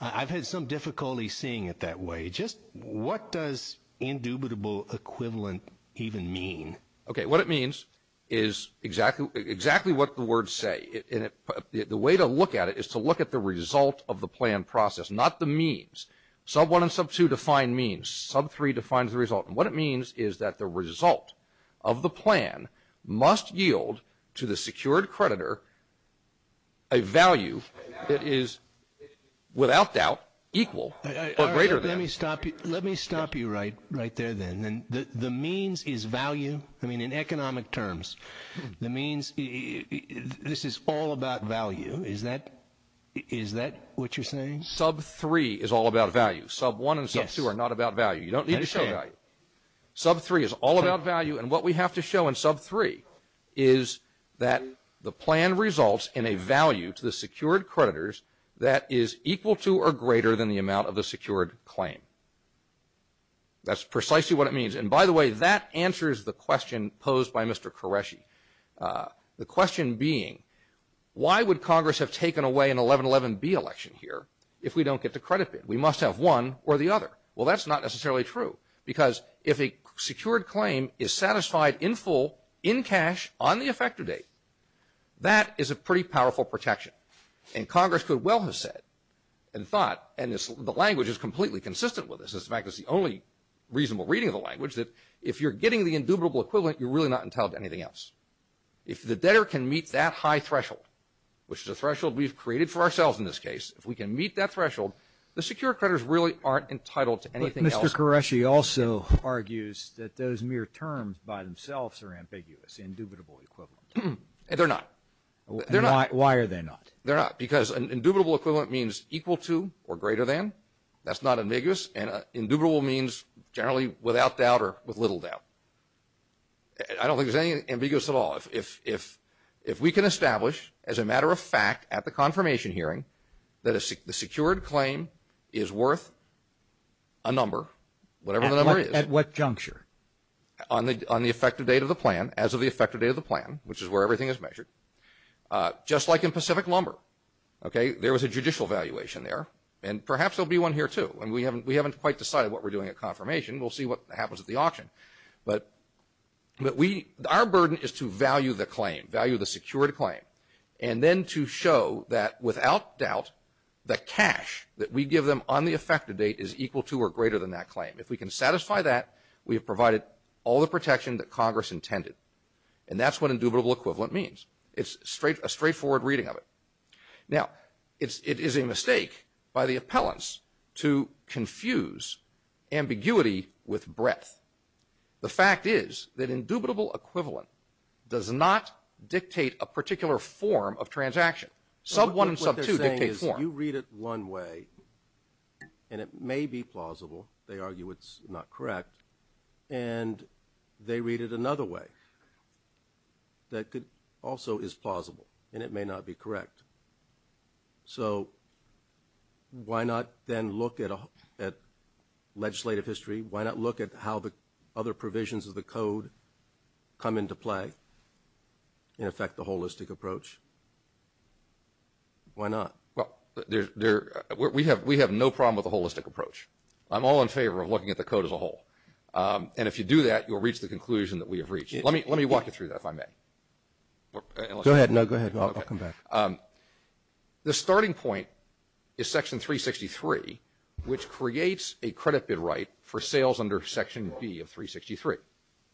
I've had some difficulty seeing it that way. Just what does indubitable equivalent even mean? Okay, what it means is exactly what the words say. The way to look at it is to look at the result of the plan process, not the means. Sub one and sub two define means. Sub three defines the result. And what it means is that the result of the plan must yield to the secured creditor a value that is, without doubt, equal or greater than. Let me stop you right there, then. The means is value. I mean, in economic terms, the means, this is all about value. Is that what you're saying? Sub three is all about value. Sub one and sub two are not about value. You don't need to show value. Sub three is all about value. And what we have to show in sub three is that the plan results in a value to the secured creditors that is equal to or greater than the amount of the secured claim. That's precisely what it means. And, by the way, that answers the question posed by Mr. Qureshi, the question being, why would Congress have taken away an 1111B election here if we don't get the credit bid? We must have one or the other. Well, that's not necessarily true because if a secured claim is satisfied in full, in cash, on the effective date, that is a pretty powerful protection. And Congress could well have said and thought, and the language is completely consistent with this. In fact, it's the only reasonable reading of the language that if you're getting the indubitable equivalent, you're really not entitled to anything else. If the debtor can meet that high threshold, which is a threshold we've created for ourselves in this case, if we can meet that threshold, the secured creditors really aren't entitled to anything else. But Mr. Qureshi also argues that those mere terms by themselves are ambiguous, indubitable equivalent. They're not. Why are they not? They're not because an indubitable equivalent means equal to or greater than. That's not ambiguous. And indubitable means generally without doubt or with little doubt. I don't think it's ambiguous at all. If we can establish as a matter of fact at the confirmation hearing that the secured claim is worth a number, whatever the number is. At what juncture? On the effective date of the plan, as of the effective date of the plan, which is where everything is measured. Just like in Pacific Lumber, there was a judicial evaluation there, and perhaps there will be one here too. And we haven't quite decided what we're doing at confirmation. We'll see what happens at the auction. But our burden is to value the claim, value the secured claim, and then to show that without doubt the cash that we give them on the effective date is equal to or greater than that claim. If we can satisfy that, we've provided all the protection that Congress intended. And that's what indubitable equivalent means. It's a straightforward reading of it. Now, it is a mistake by the appellants to confuse ambiguity with breadth. The fact is that indubitable equivalent does not dictate a particular form of transaction. Sub one and sub two dictate form. You read it one way, and it may be plausible. They argue it's not correct. And they read it another way that also is plausible, and it may not be correct. So why not then look at legislative history? Why not look at how the other provisions of the code come into play and affect the holistic approach? Why not? Well, we have no problem with the holistic approach. I'm all in favor of looking at the code as a whole. And if you do that, you'll reach the conclusion that we have reached. Let me walk you through that if I may. Go ahead. No, go ahead. I'll come back. The starting point is Section 363, which creates a credit bid right for sales under Section B of 363.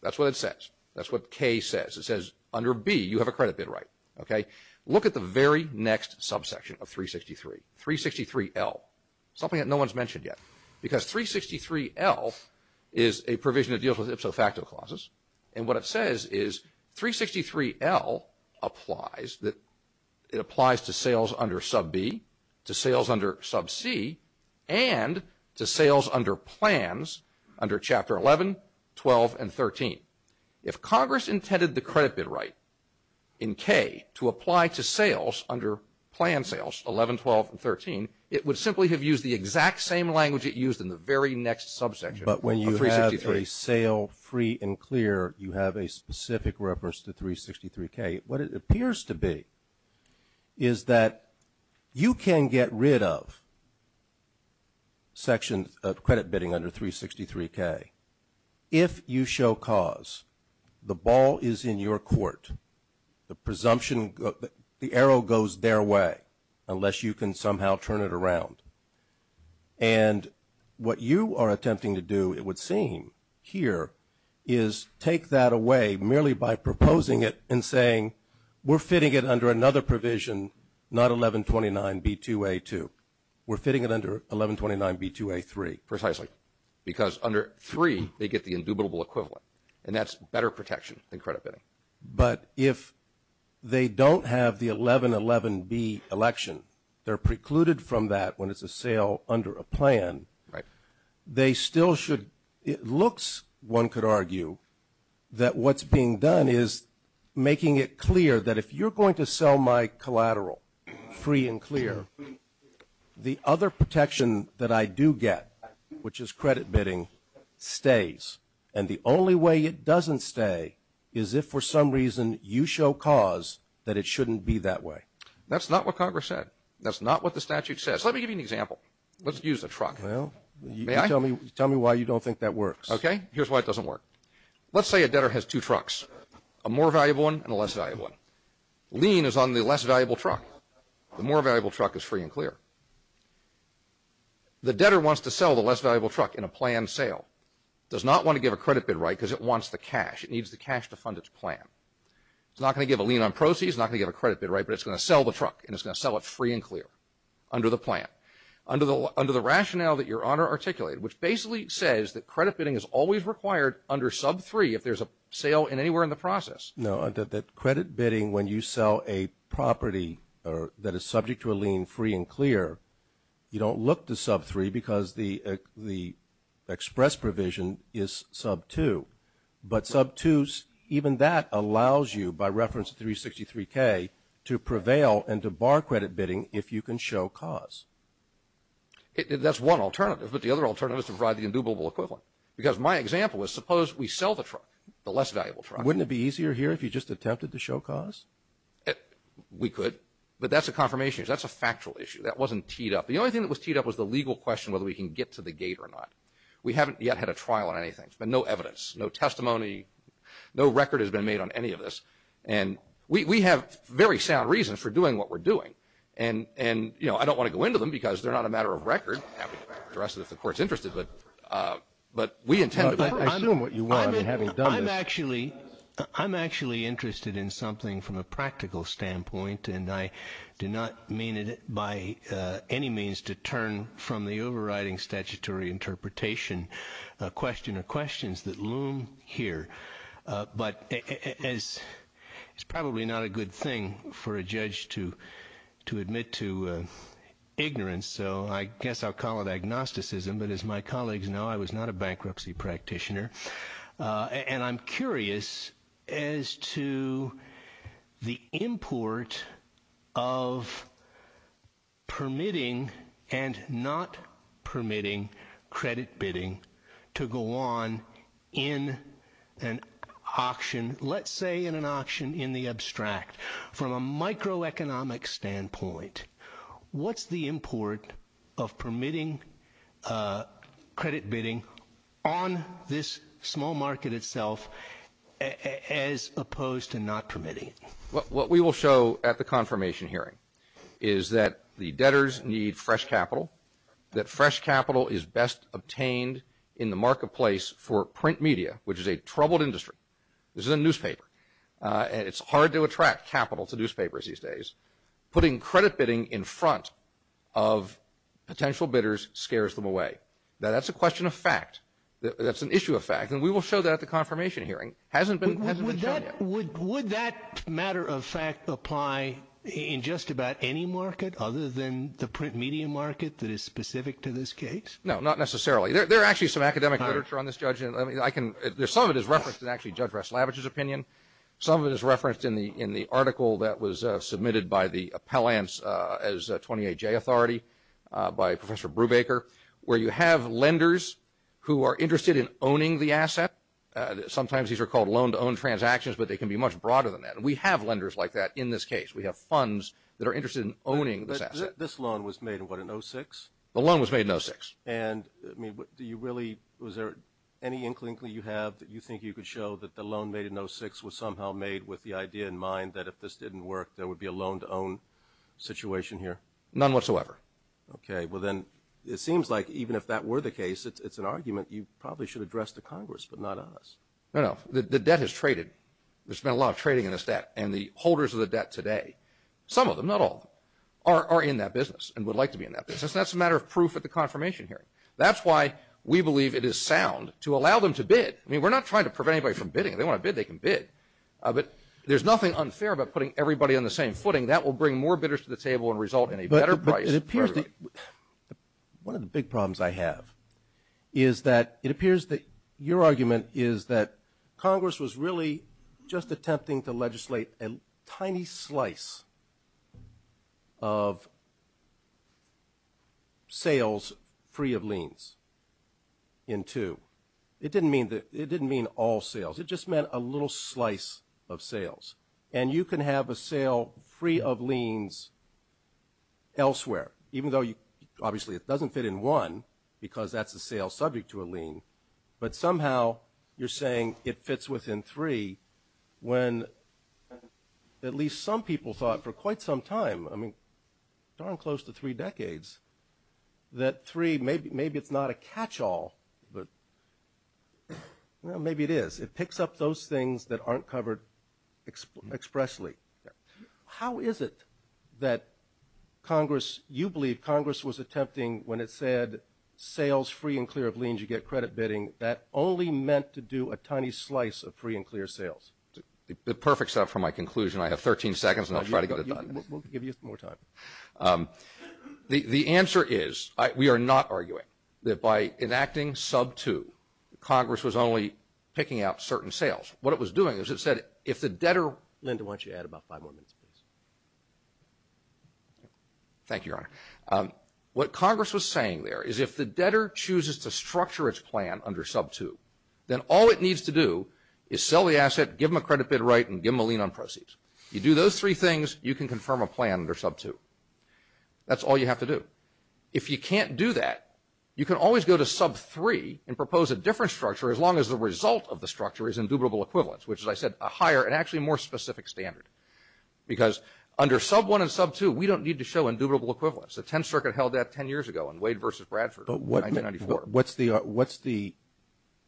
That's what it says. That's what K says. It says under B you have a credit bid right. Look at the very next subsection of 363, 363L, something that no one's mentioned yet. Because 363L is a provision that deals with ipso facto clauses. And what it says is 363L applies to sales under Sub B, to sales under Sub C, and to sales under plans under Chapter 11, 12, and 13. If Congress intended the credit bid right in K to apply to sales under plan sales, 11, 12, and 13, it would simply have used the exact same language it used in the very next subsection. But when you have a sale free and clear, you have a specific reference to 363K. What it appears to be is that you can get rid of sections of credit bidding under 363K if you show cause. The ball is in your court. The presumption, the arrow goes their way unless you can somehow turn it around. And what you are attempting to do, it would seem, here is take that away merely by proposing it and saying we're fitting it under another provision, not 1129B2A2. We're fitting it under 1129B2A3 precisely because under 3 they get the indubitable equivalent, and that's better protection than credit bidding. But if they don't have the 1111B election, they're precluded from that when it's a sale under a plan. They still should, it looks, one could argue, that what's being done is making it clear that if you're going to sell my collateral free and clear, the other protection that I do get, which is credit bidding, stays. And the only way it doesn't stay is if for some reason you show cause that it shouldn't be that way. That's not what Congress said. That's not what the statute says. Let me give you an example. Let's use a truck. Well, tell me why you don't think that works. Okay, here's why it doesn't work. Let's say a debtor has two trucks, a more valuable one and a less valuable one. Lean is on the less valuable truck. The more valuable truck is free and clear. The debtor wants to sell the less valuable truck in a planned sale. Does not want to give a credit bid right because it wants the cash. It needs the cash to fund its plan. It's not going to give a lean on proceeds. It's not going to give a credit bid right, but it's going to sell the truck, and it's going to sell it free and clear under the plan. Under the rationale that Your Honor articulated, which basically says that credit bidding is always required under sub 3 if there's a sale in anywhere in the process. No, that credit bidding when you sell a property that is subject to a lean free and clear, you don't look to sub 3 because the express provision is sub 2. But sub 2, even that allows you, by reference to 363K, to prevail and to bar credit bidding if you can show cause. That's one alternative, but the other alternative is to provide the indubitable equivalent. Because my example is suppose we sell the truck, the less valuable truck. Wouldn't it be easier here if you just attempted to show cause? We could, but that's a confirmation. That's a factual issue. That wasn't teed up. The only thing that was teed up was the legal question whether we can get to the gate or not. We haven't yet had a trial on anything, but no evidence, no testimony, no record has been made on any of this. And we have very sound reason for doing what we're doing, and I don't want to go into them because they're not a matter of record. The rest of the court is interested, but we intend to. I'm actually interested in something from a practical standpoint, and I did not mean it by any means to turn from the overriding statutory interpretation question to questions that loom here. But it's probably not a good thing for a judge to admit to ignorance, so I guess I'll call it agnosticism. But as my colleagues know, I was not a bankruptcy practitioner, and I'm curious as to the import of permitting and not permitting credit bidding to go on in an auction, let's say in an auction in the abstract. From a microeconomic standpoint, what's the import of permitting credit bidding on this small market itself as opposed to not permitting? What we will show at the confirmation hearing is that the debtors need fresh capital, that fresh capital is best obtained in the marketplace for print media, which is a troubled industry. This is a newspaper, and it's hard to attract capital to newspapers these days. Putting credit bidding in front of potential bidders scares them away. Now, that's a question of fact. That's an issue of fact, and we will show that at the confirmation hearing. Would that matter of fact apply in just about any market other than the print media market that is specific to this case? No, not necessarily. There are actually some academic literature on this, Judge. Some of it is referenced in actually Judge Ress-Lavage's opinion. Some of it is referenced in the article that was submitted by the appellants as a 28-J authority by Professor Brubaker, where you have lenders who are interested in owning the asset. Sometimes these are called loan-to-own transactions, but they can be much broader than that, and we have lenders like that in this case. We have funds that are interested in owning this asset. This loan was made in what, in 06? The loan was made in 06. And, I mean, do you really – was there any inkling that you have that you think you could show that the loan made in 06 was somehow made with the idea in mind that if this didn't work, there would be a loan-to-own situation here? None whatsoever. Okay. Well, then it seems like even if that were the case, it's an argument you probably should address to Congress, but not us. No, no. The debt is traded. There's been a lot of trading in this debt, and the holders of the debt today, some of them, not all, are in that business and would like to be in that business. That's a matter of proof at the confirmation hearing. That's why we believe it is sound to allow them to bid. I mean, we're not trying to prevent anybody from bidding. If they want to bid, they can bid. But there's nothing unfair about putting everybody on the same footing. That will bring more bidders to the table and result in a better price. One of the big problems I have is that it appears that your argument is that Congress was really just attempting to legislate a tiny slice of sales free of liens in two. It didn't mean all sales. It just meant a little slice of sales. And you can have a sale free of liens elsewhere, even though, obviously, it doesn't fit in one because that's a sale subject to a lien. But somehow you're saying it fits within three when at least some people thought for quite some time, I mean, darn close to three decades, that three, maybe it's not a catch-all, but maybe it is. It picks up those things that aren't covered expressly. How is it that Congress, you believe Congress was attempting, when it said sales free and clear of liens, you get credit bidding, that only meant to do a tiny slice of free and clear sales? The perfect start for my conclusion. I have 13 seconds and I'll try to get it done. We'll give you some more time. The answer is we are not arguing that by enacting sub two, Congress was only picking out certain sales. What it was doing is it said if the debtor ‑‑ Linda, why don't you add about five more minutes, please? Thank you, Your Honor. What Congress was saying there is if the debtor chooses to structure its plan under sub two, then all it needs to do is sell the asset, give them a credit bid right, and give them a lien on proceeds. You do those three things, you can confirm a plan under sub two. That's all you have to do. If you can't do that, you can always go to sub three and propose a different structure, as long as the result of the structure is indubitable equivalence, which, as I said, a higher and actually more specific standard. Because under sub one and sub two, we don't need to show indubitable equivalence. The 10th Circuit held that 10 years ago in Wade versus Bradford in 1994. What's the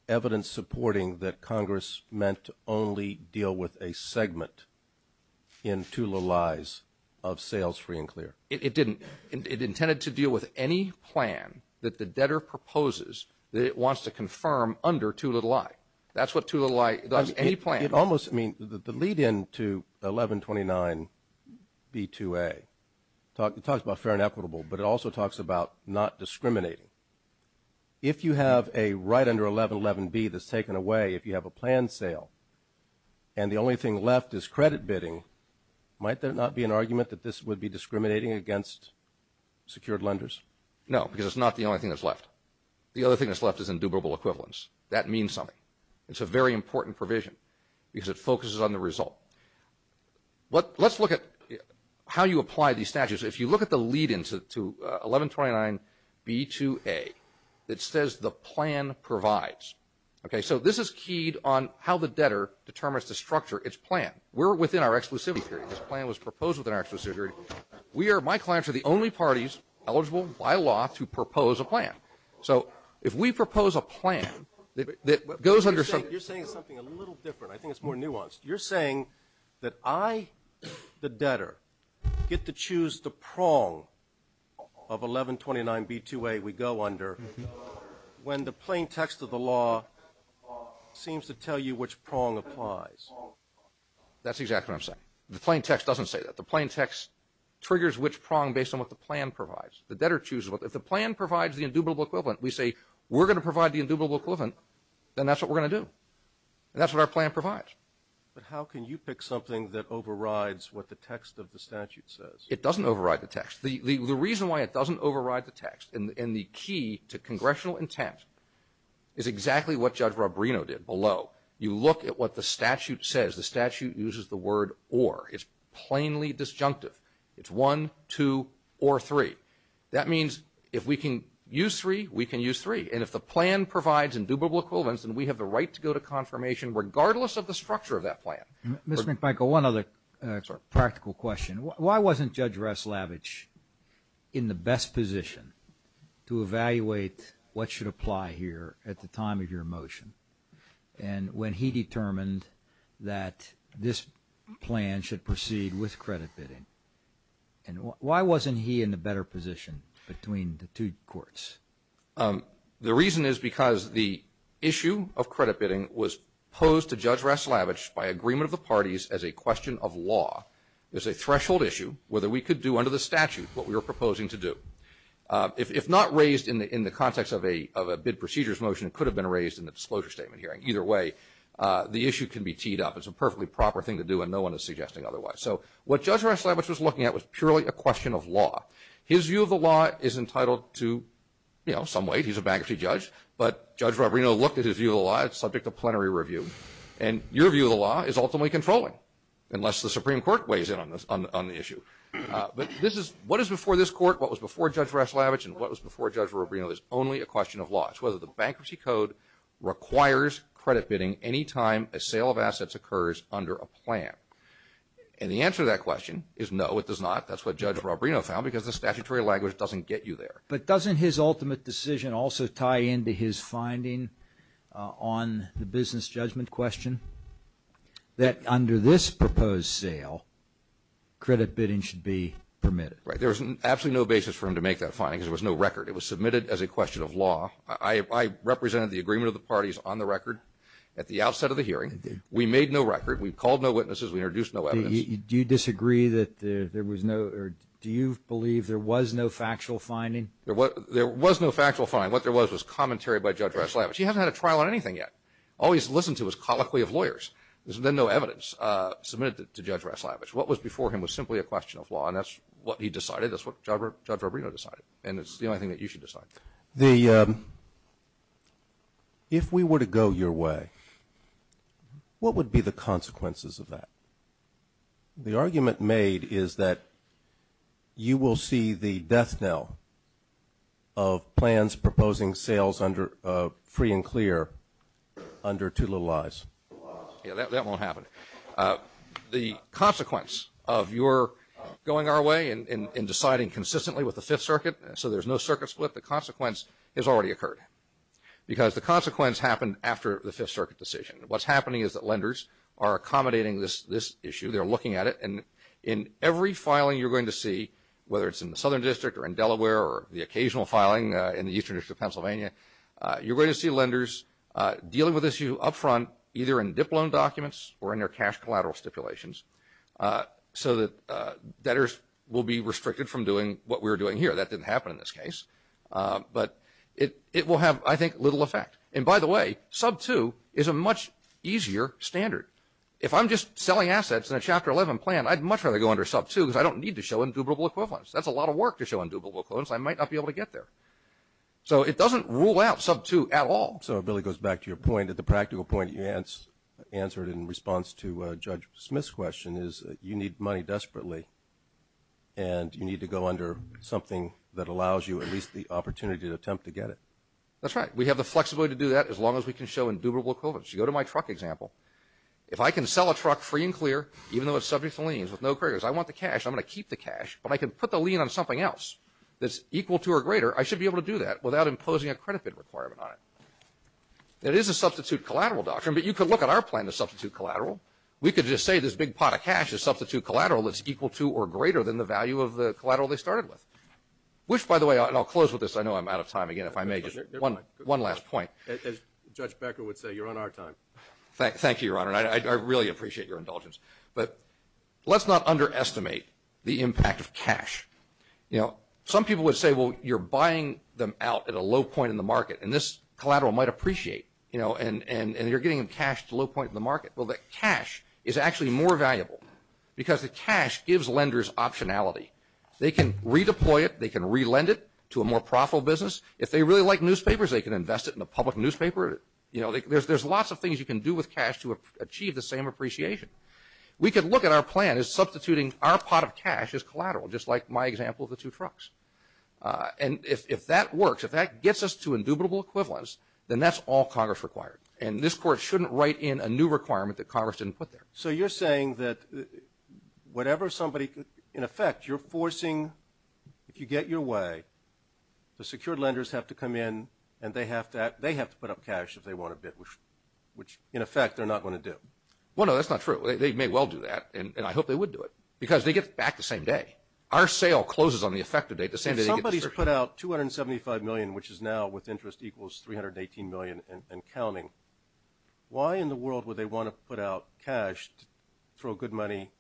evidence supporting that Congress meant to only deal with a segment in Two Little Lies of sales free and clear? It didn't. It intended to deal with any plan that the debtor proposes that it wants to confirm under Two Little Lies. That's what Two Little Lies, any plan. The lead-in to 1129B2A talks about fair and equitable, but it also talks about not discriminating. If you have a right under 1111B that's taken away, if you have a planned sale, and the only thing left is credit bidding, might there not be an argument that this would be discriminating against secured lenders? No, because it's not the only thing that's left. The other thing that's left is indubitable equivalence. That means something. It's a very important provision because it focuses on the result. Let's look at how you apply these statutes. If you look at the lead-in to 1129B2A, it says the plan provides. So this is keyed on how the debtor determines the structure, its plan. We're within our exclusivity period. This plan was proposed within our exclusivity period. So if we propose a plan that goes under – You're saying something a little different. I think it's more nuanced. You're saying that I, the debtor, get to choose the prong of 1129B2A we go under when the plain text of the law seems to tell you which prong applies. That's exactly what I'm saying. The plain text doesn't say that. The plain text triggers which prong based on what the plan provides. The debtor chooses. If the plan provides the indubitable equivalent, we say we're going to provide the indubitable equivalent, and that's what we're going to do. And that's what our plan provides. But how can you pick something that overrides what the text of the statute says? It doesn't override the text. The reason why it doesn't override the text and the key to congressional intent is exactly what Judge Rob Reno did below. You look at what the statute says. The statute uses the word or. It's plainly disjunctive. It's one, two, or three. That means if we can use three, we can use three. And if the plan provides indubitable equivalents, then we have the right to go to confirmation regardless of the structure of that plan. Mr. McMichael, one other practical question. Why wasn't Judge Raslavich in the best position to evaluate what should apply here at the time of your motion? And when he determined that this plan should proceed with credit bidding, why wasn't he in the better position between the two courts? The reason is because the issue of credit bidding was posed to Judge Raslavich by agreement of the parties as a question of law. There's a threshold issue whether we could do under the statute what we were proposing to do. If not raised in the context of a bid procedures motion, it could have been raised in the disclosure statement hearing. Either way, the issue can be teed up. It's a perfectly proper thing to do, and no one is suggesting otherwise. So what Judge Raslavich was looking at was truly a question of law. His view of the law is entitled to, you know, some weight. He's a bankruptcy judge. But Judge Rob Reno looked at his view of the law. It's subject to plenary review. And your view of the law is ultimately controlling unless the Supreme Court weighs in on the issue. But this is – what is before this court, what was before Judge Raslavich, and what was before Judge Rob Reno is only a question of law. It's whether the bankruptcy code requires credit bidding any time a sale of assets occurs under a plan. And the answer to that question is no, it does not. That's what Judge Rob Reno found because the statutory language doesn't get you there. But doesn't his ultimate decision also tie into his finding on the business judgment question that under this proposed sale, credit bidding should be permitted? Right. There was absolutely no basis for him to make that finding because there was no record. It was submitted as a question of law. I represented the agreement of the parties on the record at the outset of the hearing. We made no record. We called no witnesses. We introduced no evidence. Do you disagree that there was no – or do you believe there was no factual finding? There was no factual finding. What there was was commentary by Judge Raslavich. He hasn't had a trial on anything yet. All he's listened to is colloquy of lawyers. There's been no evidence submitted to Judge Raslavich. What was before him was simply a question of law, and that's what he decided. That's what Judge Rob Reno decided, and it's the only thing that you should decide. The – if we were to go your way, what would be the consequences of that? The argument made is that you will see the death knell of plans proposing sales under – free and clear under two little eyes. Yeah, that won't happen. The consequence of your going our way and deciding consistently with the Fifth Circuit so there's no circuit split, the consequence has already occurred because the consequence happened after the Fifth Circuit decision. What's happening is that lenders are accommodating this issue. They're looking at it, and in every filing you're going to see, whether it's in the Southern District or in Delaware or the occasional filing in the Eastern District of Pennsylvania, you're going to see lenders dealing with this issue up front either in dip loan documents or in their cash collateral stipulations so that debtors will be restricted from doing what we're doing here. That didn't happen in this case, but it will have, I think, little effect. And by the way, sub two is a much easier standard. If I'm just selling assets in a Chapter 11 plan, I'd much rather go under sub two because I don't need to show indubitable equivalence. That's a lot of work to show indubitable equivalence. I might not be able to get there. So it doesn't rule out sub two at all. So it really goes back to your point that the practical point you answered in response to Judge Smith's question is that you need money desperately, and you need to go under something that allows you at least the opportunity to attempt to get it. That's right. We have the flexibility to do that as long as we can show indubitable equivalence. You go to my truck example. If I can sell a truck free and clear, even though it's subject to liens with no creditors, I want the cash, I'm going to keep the cash, but I can put the lien on something else that's equal to or greater, I should be able to do that without imposing a credit bid requirement on it. It is a substitute collateral doctrine, but you can look at our plan to substitute collateral. We could just say this big pot of cash is substitute collateral that's equal to or greater than the value of the collateral they started with, which, by the way, and I'll close with this. I know I'm out of time. Again, if I may, just one last point. As Judge Becker would say, you're on our time. Thank you, Your Honor, and I really appreciate your indulgence. But let's not underestimate the impact of cash. Some people would say, well, you're buying them out at a low point in the market, and this collateral might appreciate, and you're getting cash at a low point in the market. Well, the cash is actually more valuable because the cash gives lenders optionality. They can redeploy it. They can relend it to a more profitable business. If they really like newspapers, they can invest it in a public newspaper. There's lots of things you can do with cash to achieve the same appreciation. We could look at our plan as substituting our pot of cash as collateral, just like my example of the two trucks. And if that works, if that gets us to indubitable equivalence, then that's all Congress requires. And this Court shouldn't write in a new requirement that Congress didn't put there. So you're saying that whatever somebody, in effect, you're forcing, if you get your way, the secured lenders have to come in and they have to put up cash if they want a bid, which, in effect, they're not going to do. Well, no, that's not true. They may well do that, and I hope they would do it because they get back the same day. Our sale closes on the effective date the same day they get their cash. If somebody's put out $275 million, which is now, with interest, equals $318 million and counting, why in the world would they want to put out cash to throw good money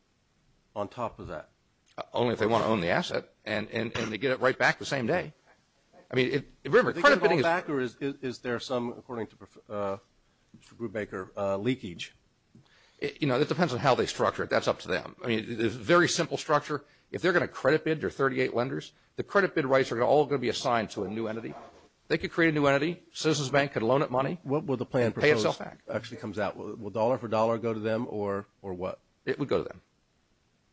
on top of that? Only if they want to own the asset and they get it right back the same day. Is there some, according to Brubaker, leakage? You know, it depends on how they structure it. That's up to them. I mean, it's a very simple structure. If they're going to credit bid their 38 lenders, the credit bid rights are all going to be assigned to a new entity. They could create a new entity. Citizens Bank could loan it money. What will the plan propose? Pay Itself Act actually comes out. Will dollar for dollar go to them or what? It would go to them.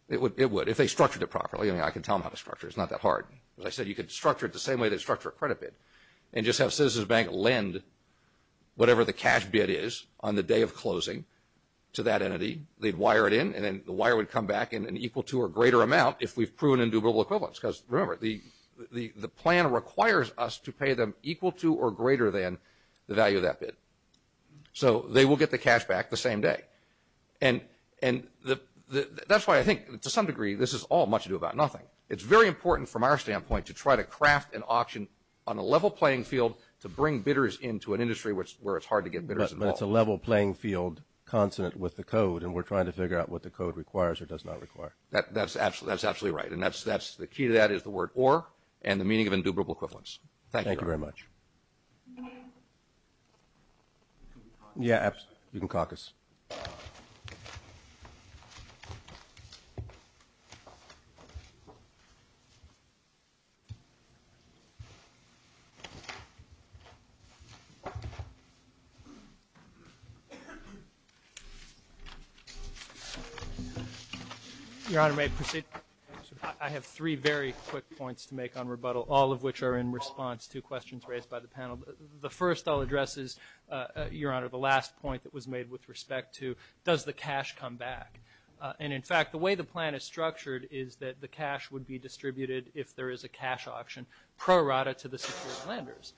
It would if they structured it properly. I mean, I can tell them how to structure it. It's not that hard. As I said, you could structure it the same way they structure a credit bid and just have Citizens Bank lend whatever the cash bid is on the day of closing to that entity. They'd wire it in, and then the wire would come back in an equal to or greater amount if we've proven individual equivalence because, remember, the plan requires us to pay them equal to or greater than the value of that bid. So they will get the cash back the same day. And that's why I think, to some degree, this is all much ado about nothing. It's very important from our standpoint to try to craft an option on a level playing field to bring bidders into an industry where it's hard to get bidders involved. But it's a level playing field consonant with the code, and we're trying to figure out what the code requires or does not require. That's absolutely right. And the key to that is the word or and the meaning of indubitable equivalence. Thank you. Thank you very much. Yeah, absolutely. You can clock us. Your Honor, may I proceed? I have three very quick points to make on rebuttal, all of which are in response to questions raised by the panel. The first I'll address is, Your Honor, the last point that was made with respect to does the cash come back. And, in fact, the way the plan is structured is that the cash would be distributed, if there is a cash option, pro rata to the secured lenders.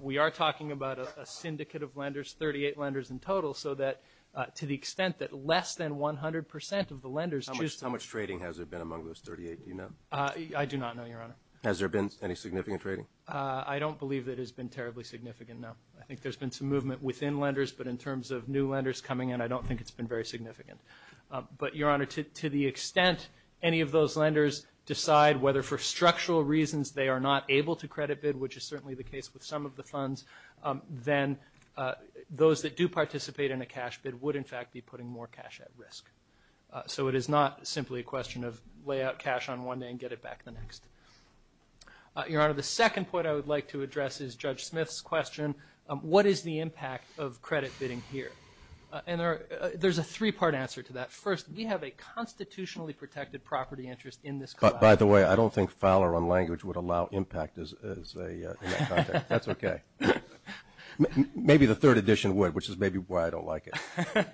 We are talking about a syndicate of lenders, 38 lenders in total, so that to the extent that less than 100 percent of the lenders choose to. How much trading has there been among those 38, do you know? I do not know, Your Honor. Has there been any significant trading? I don't believe it has been terribly significant, no. I think there's been some movement within lenders, but in terms of new lenders coming in, I don't think it's been very significant. But, Your Honor, to the extent any of those lenders decide whether, for structural reasons, they are not able to credit bid, which is certainly the case with some of the funds, then those that do participate in a cash bid would, in fact, be putting more cash at risk. So it is not simply a question of lay out cash on one day and get it back the next. Your Honor, the second point I would like to address is Judge Smith's question, what is the impact of credit bidding here? And there's a three-part answer to that. First, we have a constitutionally protected property interest in this contract. By the way, I don't think Fowler on language would allow impact in that context. That's okay. Maybe the third edition would, which is maybe why I don't like it.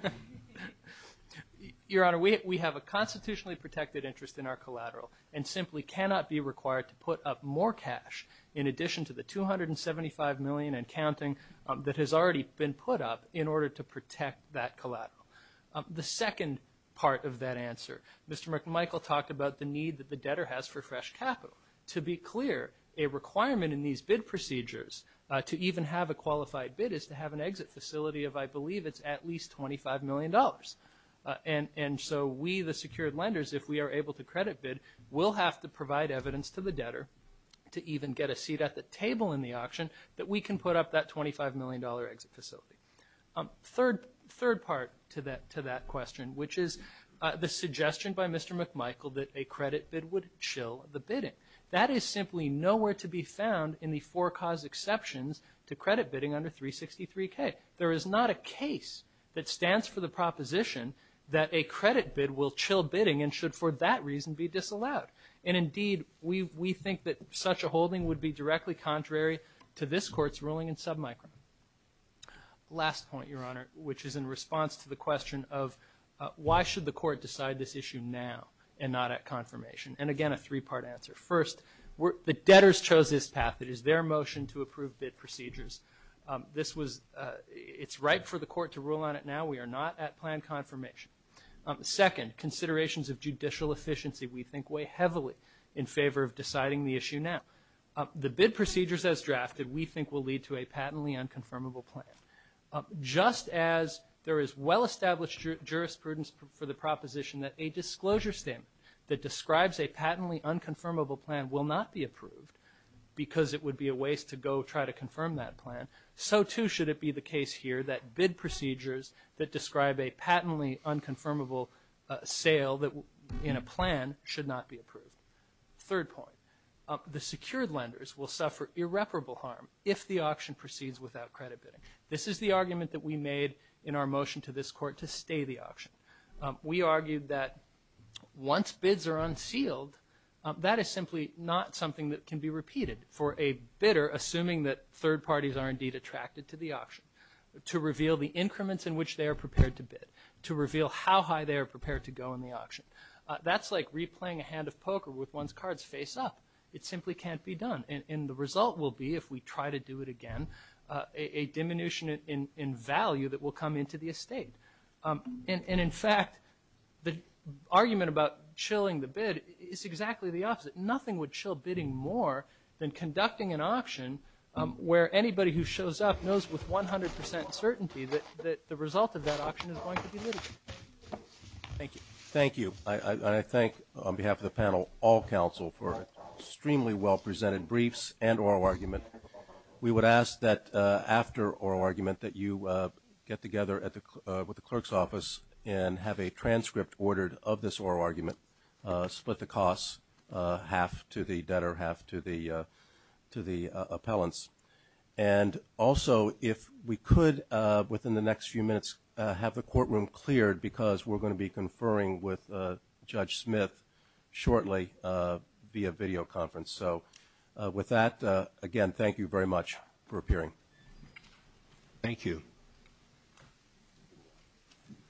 Your Honor, we have a constitutionally protected interest in our collateral and simply cannot be required to put up more cash in addition to the $275 million and counting that has already been put up in order to protect that collateral. The second part of that answer, Mr. McMichael talked about the need that the debtor has for fresh capital. To be clear, a requirement in these bid procedures to even have a qualified bid is to have an exit facility of, I believe it's at least $25 million. And so we, the secured lenders, if we are able to credit bid, we'll have to provide evidence to the debtor to even get a seat at the table in the auction that we can put up that $25 million exit facility. Third part to that question, which is the suggestion by Mr. McMichael that a credit bid would chill the bidding. That is simply nowhere to be found in the four cause exceptions to credit bidding under 363K. There is not a case that stands for the proposition that a credit bid will chill bidding and should for that reason be disallowed. And indeed, we think that such a holding would be directly contrary to this court's ruling in submicron. Last point, Your Honor, which is in response to the question of why should the court decide this issue now and not at confirmation. And again, a three-part answer. First, the debtors chose this path. It is their motion to approve bid procedures. This was, it's right for the court to rule on it now. We are not at planned confirmation. Second, considerations of judicial efficiency, we think, weigh heavily in favor of deciding the issue now. The bid procedures as drafted, we think, will lead to a patently unconfirmable plan. Just as there is well-established jurisprudence for the proposition that a disclosure statement that describes a patently unconfirmable plan will not be approved because it would be a waste to go try to confirm that plan, so too should it be the case here that bid procedures that describe a patently unconfirmable sale in a plan should not be approved. Third point, the secured lenders will suffer irreparable harm if the auction proceeds without credit bidding. This is the argument that we made in our motion to this court to stay the auction. We argued that once bids are unsealed, that is simply not something that can be repeated. For a bidder, assuming that third parties are indeed attracted to the auction, to reveal the increments in which they are prepared to bid, to reveal how high they are prepared to go in the auction, that's like replaying a hand of poker with one's cards face up. It simply can't be done. And the result will be, if we try to do it again, a diminution in value that will come into the estate. And in fact, the argument about chilling the bid is exactly the opposite. Nothing would chill bidding more than conducting an auction where anybody who shows up knows with 100 percent certainty that the result of that auction is going to be limited. Thank you. Thank you. I thank, on behalf of the panel, all counsel for extremely well presented briefs and oral argument. We would ask that after oral argument that you get together with the clerk's office and have a transcript ordered of this oral argument, split the costs half to the debtor, half to the appellants. And also, if we could, within the next few minutes, have the courtroom cleared because we're going to be conferring with Judge Smith shortly via video conference. So with that, again, thank you very much for appearing. Thank you.